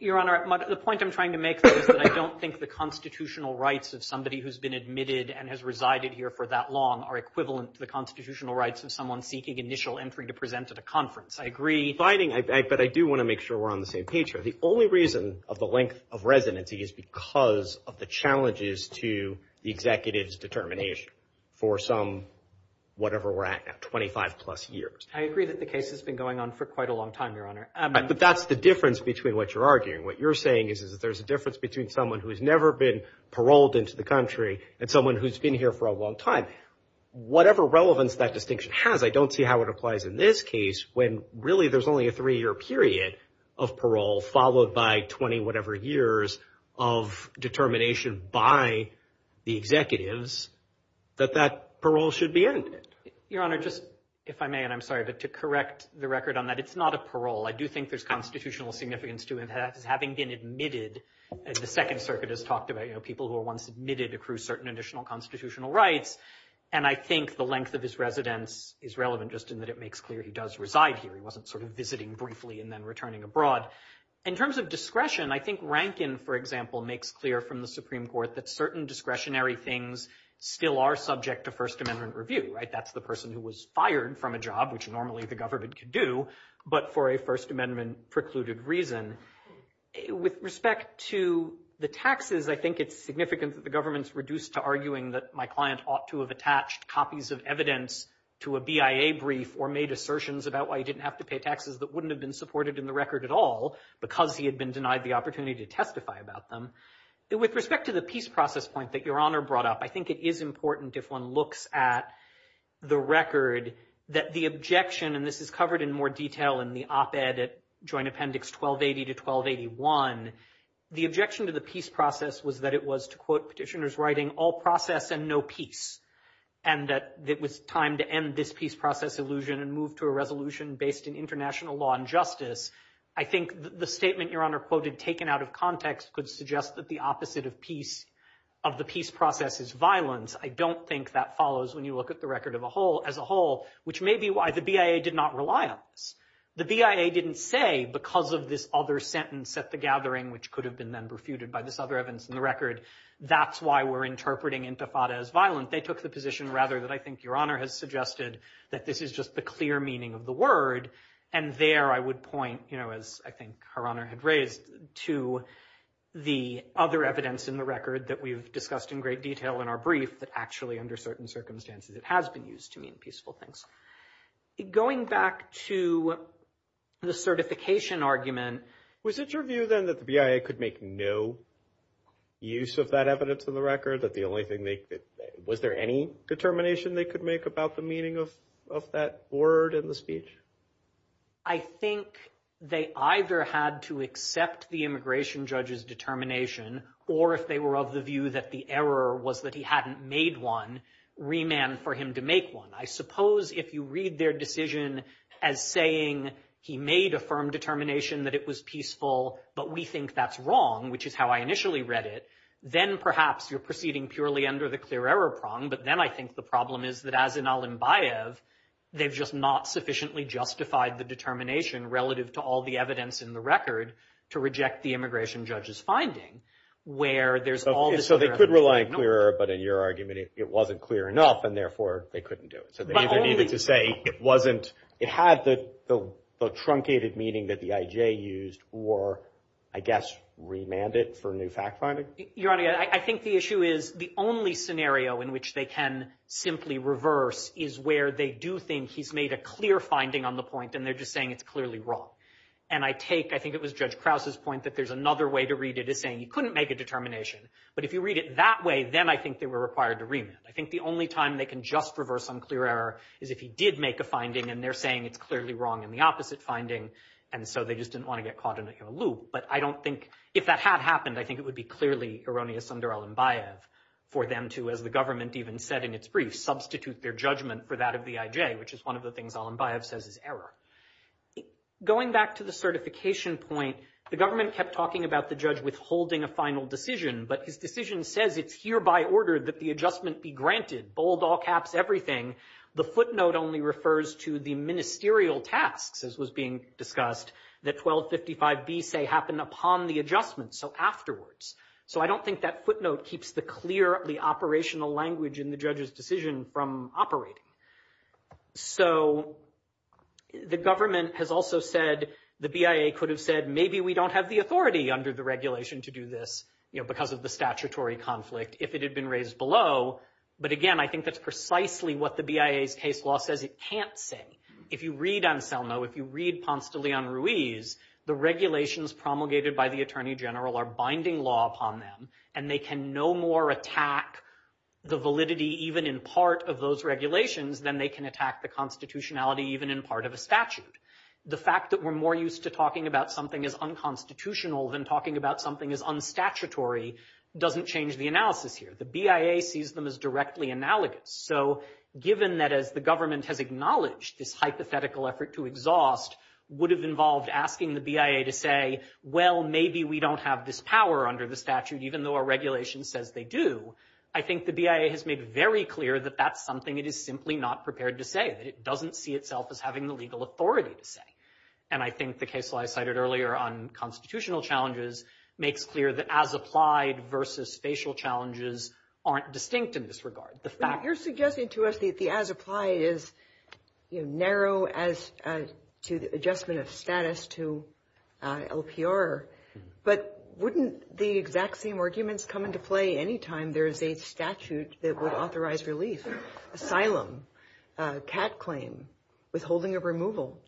Your Honor, the point I'm trying to make is that I don't think the constitutional rights of somebody who's been admitted and has resided here for that long are equivalent to the constitutional rights of someone seeking initial entry to present at a conference. I agree. But I do want to make sure we're on the same page here. The only reason of the length of residency is because of the challenges to the executive's determination for some, whatever we're at now, 25 plus years. I agree that the case has been going on for quite a long time, Your Honor. But that's the difference between what you're arguing. What you're saying is that there's a difference between someone who has never been paroled into the country and someone who's been here for a long time. Whatever relevance that distinction has, I don't see how it applies in this case when really there's only a three-year period of parole followed by 20 whatever years of determination by the executives that that parole should be ended. Your Honor, just, if I may, and I'm sorry, but to correct the record on that, it's not a parole. I do think there's constitutional significance to it having been admitted, as the Second Circuit has talked about, you know, people who are once admitted accrue certain additional constitutional rights. And I think the length of his residence is relevant just in that it makes clear he does reside here. He wasn't sort of visiting briefly and then returning abroad. In terms of discretion, I think Rankin, for example, makes clear from the Supreme Court that certain discretionary things still are subject to First Amendment review, right? That's the person who was fired from a job, which normally the government could do, but for a First Amendment precluded reason. With respect to the taxes, I think it's significant that the government's reduced to arguing that my client ought to have attached copies of documents to a BIA brief or made assertions about why he didn't have to pay taxes that wouldn't have been supported in the record at all because he had been denied the opportunity to testify about them. With respect to the peace process point that Your Honor brought up, I think it is important if one looks at the record that the objection, and this is covered in more detail in the op-ed at Joint Appendix 1280 to 1281, the objection to the peace process was that it was, to quote petitioners writing, all process and no peace, and that it was time to end this peace process illusion and move to a resolution based in international law and justice. I think the statement Your Honor quoted, taken out of context, could suggest that the opposite of peace, of the peace process is violence. I don't think that follows when you look at the record as a whole, which may be why the BIA did not rely on this. The BIA didn't say, because of this other sentence at the gathering, which could have been then refuted by Ms. Other Evans in the record, that's why we're interpreting intifada as violent. They took the position, rather, that I think Your Honor has suggested, that this is just the clear meaning of the word, and there I would point, as I think Her Honor had raised, to the other evidence in the record that we've discussed in great detail in our brief, that actually under certain circumstances it has been used to mean peaceful things. Going back to the certification argument, was it your view then that the BIA could make no use of that evidence in the record? Was there any determination they could make about the meaning of that word in the speech? I think they either had to accept the immigration judge's determination, or if they were of the view that the error was that he hadn't made one, remand for him to make one. I suppose if you read their decision as saying he made a firm determination that it was peaceful, but we think that's wrong, which is how I initially read it, then perhaps you're proceeding purely under the clear error prong, but then I think the problem is that as in Al-Ambayev, they've just not sufficiently justified the determination relative to all the evidence in the record to reject the immigration judge's finding. So they could rely on clear error, but in your argument it wasn't clear enough, and therefore they couldn't do it. It had the truncated meaning that the IJ used for I guess remand it for a new fact-finding? Your Honor, I think the issue is the only scenario in which they can simply reverse is where they do think he's made a clear finding on the point, and they're just saying it's clearly wrong. And I take I think it was Judge Krause's point that there's another way to read it as saying he couldn't make a determination, but if you read it that way, then I think they were required to remand. I think the only time they can just reverse on clear error is if he did make a finding, and they're saying it's clearly wrong in the opposite finding, and so they just didn't want to get caught in a loop. But I don't think, if that had happened, I think it would be clearly erroneous under Alenbaev for them to, as the government even said in its brief, substitute their judgment for that of the IJ, which is one of the things Alenbaev says is error. Going back to the certification point, the government kept talking about the judge withholding a final decision, but his decision says it's hereby ordered that the adjustment be granted. Bold footnote only refers to the ministerial tasks, as was being discussed, that 1255B say happened upon the adjustment, so afterwards. So I don't think that footnote keeps the clearly operational language in the judge's decision from operating. So the government has also said, the BIA could have said, maybe we don't have the authority under the regulation to do this because of the statutory conflict, if it had been raised below. But again, I think that's precisely what the BIA's case law says it can't say. If you read Anselmo, if you read Ponce de Leon Ruiz, the regulations promulgated by the Attorney General are binding law upon them, and they can no more attack the validity even in part of those regulations than they can attack the constitutionality even in part of a statute. The fact that we're more used to talking about something as unconstitutional than talking about something as unstatutory doesn't change the analysis here. The BIA sees them as directly analogous. So given that the government has acknowledged this hypothetical effort to exhaust would have involved asking the BIA to say, well, maybe we don't have this power under the statute, even though our regulation says they do, I think the BIA has made very clear that that's something it is simply not prepared to say. It doesn't see itself as having the legal authority to say. And I think the case law I cited earlier on constitutional challenges makes clear that as applied versus facial challenges aren't distinct in this regard. You're suggesting to us that the as applied is narrow as to the adjustment of status to LPR, but wouldn't the exact same arguments come into play any time there's a statute that would authorize relief? Cat claim? Withholding of removal?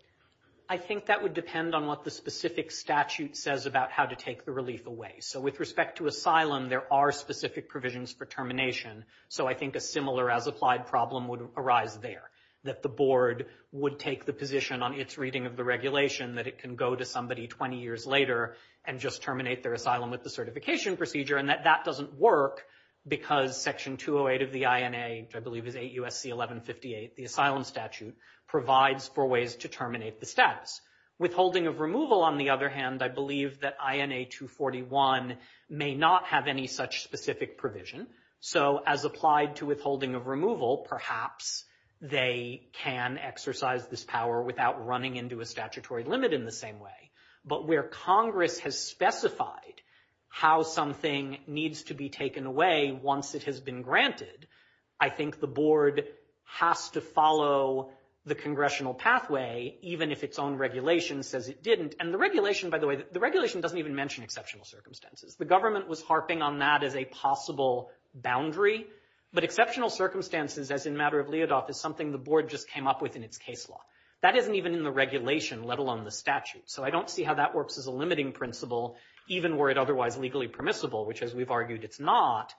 I think that would depend on what the specific statute says about how to take the relief away. So with respect to asylum, there are specific provisions for termination. So I think a similar as applied problem would arise there, that the board would take the position on its reading of the regulation that it can go to somebody 20 years later and just terminate their asylum with the certification procedure, and that that doesn't work because section 208 of the INA, which I believe is 8 U.S.C. 1158, the asylum statute, provides for ways to terminate the status. Withholding of removal, on the other hand, I believe that INA 241 may not have any such specific provision. So as applied to withholding of removal, perhaps they can exercise this power without running into a statutory limit in the same way. But where Congress has specified how something needs to be taken away once it has been granted, I think the board has to follow the congressional pathway, even if its own regulation says it didn't. And the regulation, by the way, the regulation doesn't even mention exceptional circumstances. The government was harping on that as a possible boundary, but exceptional circumstances, as in the matter of Leodoff, is something the board just came up with in its case law. That isn't even in the regulation, let alone the statute. So I don't see how that works as a limiting principle, even were it otherwise legally permissible, which, as we've argued, it's not.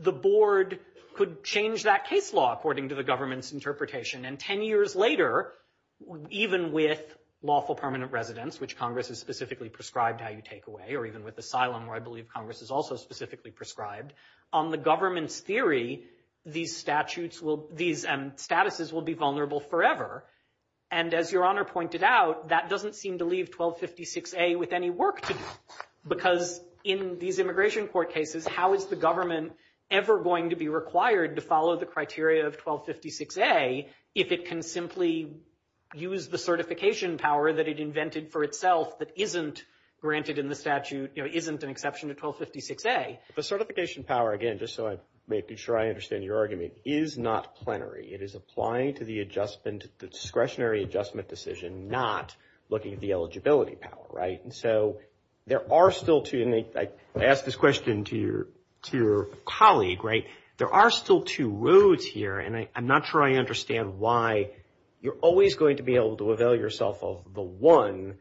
The board could change that case law according to the government's interpretation, and ten years later, even with lawful permanent residence, which Congress has specifically prescribed how you take away, or even with asylum, where I believe Congress has also specifically prescribed, on the government's theory these statutes will, these statuses will be vulnerable forever. And as Your Honor pointed out, that doesn't seem to leave 1256A with any work to do. Because in these immigration court cases, how is the government ever going to be required to follow the statute of 1256A if it can simply use the certification power that it invented for itself that isn't granted in the statute, you know, isn't an exception to 1256A? The certification power, again, just so I'm making sure I understand your argument, is not plenary. It is applying to the adjustment, the discretionary adjustment decision, not looking at the eligibility power, right? And so there are still two, and I ask this question to your colleague, there are still two roads here, and I'm not sure I understand why you're always going to be able to avail yourself of the one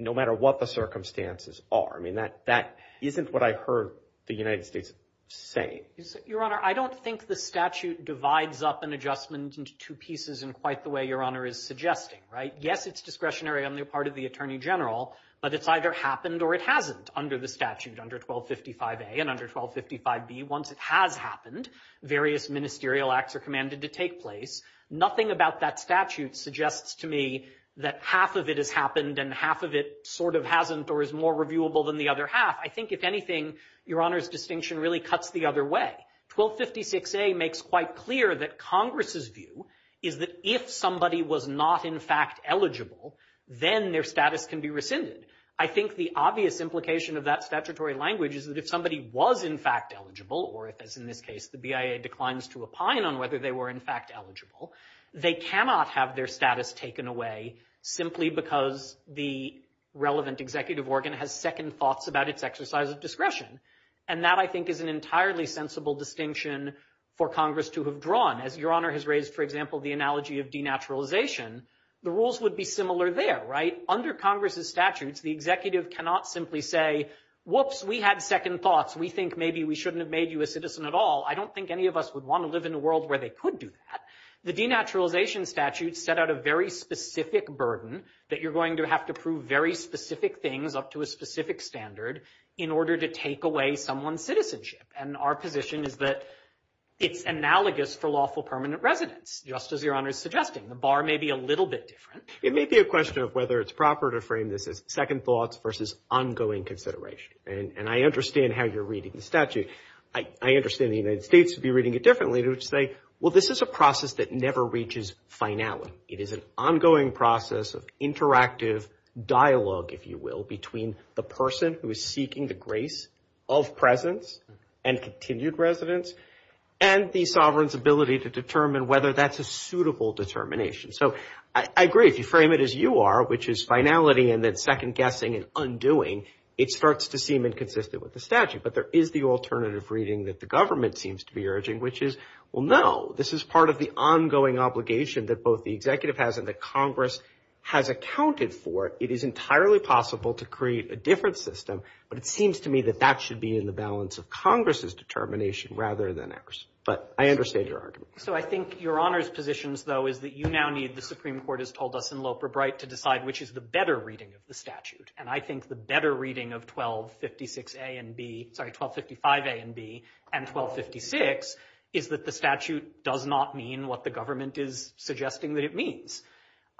no matter what the circumstances are. I mean, that isn't what I heard the United States saying. Your Honor, I don't think the statute divides up an adjustment into two pieces in quite the way Your Honor is suggesting, right? Yes, it's discretionary on the part of the Attorney General, but it's either happened or it hasn't under the statute, under 1255A or, again, under 1255B. Once it has happened, various ministerial acts are commanded to take place. Nothing about that statute suggests to me that half of it has happened and half of it sort of hasn't or is more reviewable than the other half. I think if anything, Your Honor's distinction really cuts the other way. 1256A makes quite clear that Congress's view is that if somebody was not in fact eligible, then their status can be rescinded. I think the obvious implication of that statutory language is that if somebody was in fact eligible, or if, as in this case, the BIA declines to opine on whether they were in fact eligible, they cannot have their status taken away simply because the relevant executive organ has second thoughts about its exercise of discretion. And that, I think, is an entirely sensible distinction for Congress to have drawn. As Your Honor has raised, for example, the analogy of denaturalization, the rules would be similar there, right? Under Congress's statutes, the executive cannot simply say, whoops, we had second thoughts. We think maybe we shouldn't have made you a citizen at all. I don't think any of us would want to live in a world where they could do that. The denaturalization statute set out a very specific burden that you're going to have to prove very specific things up to a specific standard in order to take away someone's citizenship. And our position is that it's analogous for lawful permanent residence, just as Your Honor's suggesting. The bar may be a little bit different. It may be a question of whether it's proper to frame this as second thoughts versus ongoing consideration. And I understand how you're reading the statute. I understand the United States would be reading it differently. They would say, well, this is a process that never reaches finality. It is an ongoing process of interactive dialogue, if you will, between the person who is seeking the grace of presence and continued residence and the sovereign's ability to determine whether that's a suitable determination. So I agree. If you frame it as you are, which is finality and then second guessing and undoing, it starts to seem inconsistent with the statute. But there is the alternative reading that the government seems to be urging, which is well, no, this is part of the ongoing obligation that both the executive has and that Congress has accounted for. It is entirely possible to create a different system, but it seems to me that that should be in the balance of Congress's determination rather than ours. But I understand your argument. So I think your honors positions, though, is that you now need, the Supreme Court has told us in Loper-Bright, to decide which is the better reading of the statute. And I think the better reading of 1255A and B and 1256 is that the statute does not mean what the government is suggesting that it means.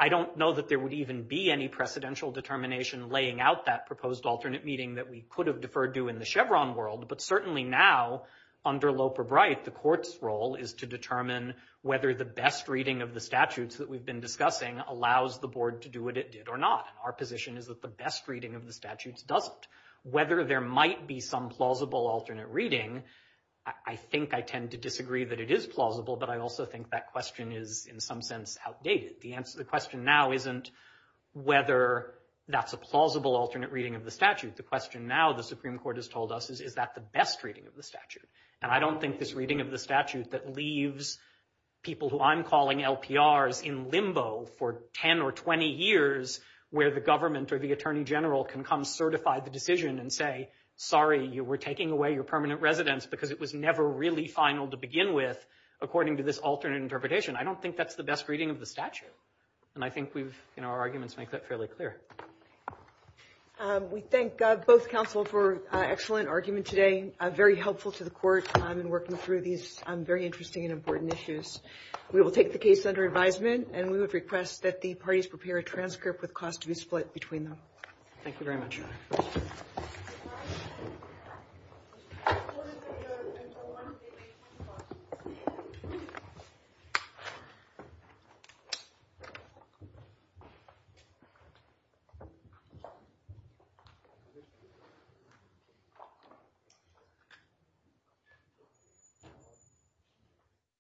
I don't know that there would even be any precedential determination laying out that proposed alternate meeting that we could have deferred to in the Chevron world, but certainly now, under Loper-Bright, the court's role is to determine whether the best reading of the statutes that we've been discussing allows the board to do what it did or not. Our position is that the best reading of the statutes doesn't. Whether there might be some plausible alternate reading, I think I tend to disagree that it is plausible, but I also think that question is, in some sense, outdated. The question now isn't whether that's a plausible alternate reading of the statute. The question now, the Supreme Court has told us, is is that the best reading of the statute? And I don't think this reading of the statute that leaves people who I'm calling LPRs in limbo for 10 or 20 years where the government or the attorney general can come certify the decision and say, sorry, you were taking away your permanent residence because it was never really final to begin with, according to this alternate interpretation. I don't think that's the best reading of the statute. And I think our arguments make that fairly clear. We thank both counsel for an excellent argument today, very helpful to the Court in working through these very interesting and important issues. We will take the case under advisement, and we would request that the parties prepare a transcript with cause to be split between them. Thank you very much. Thank you.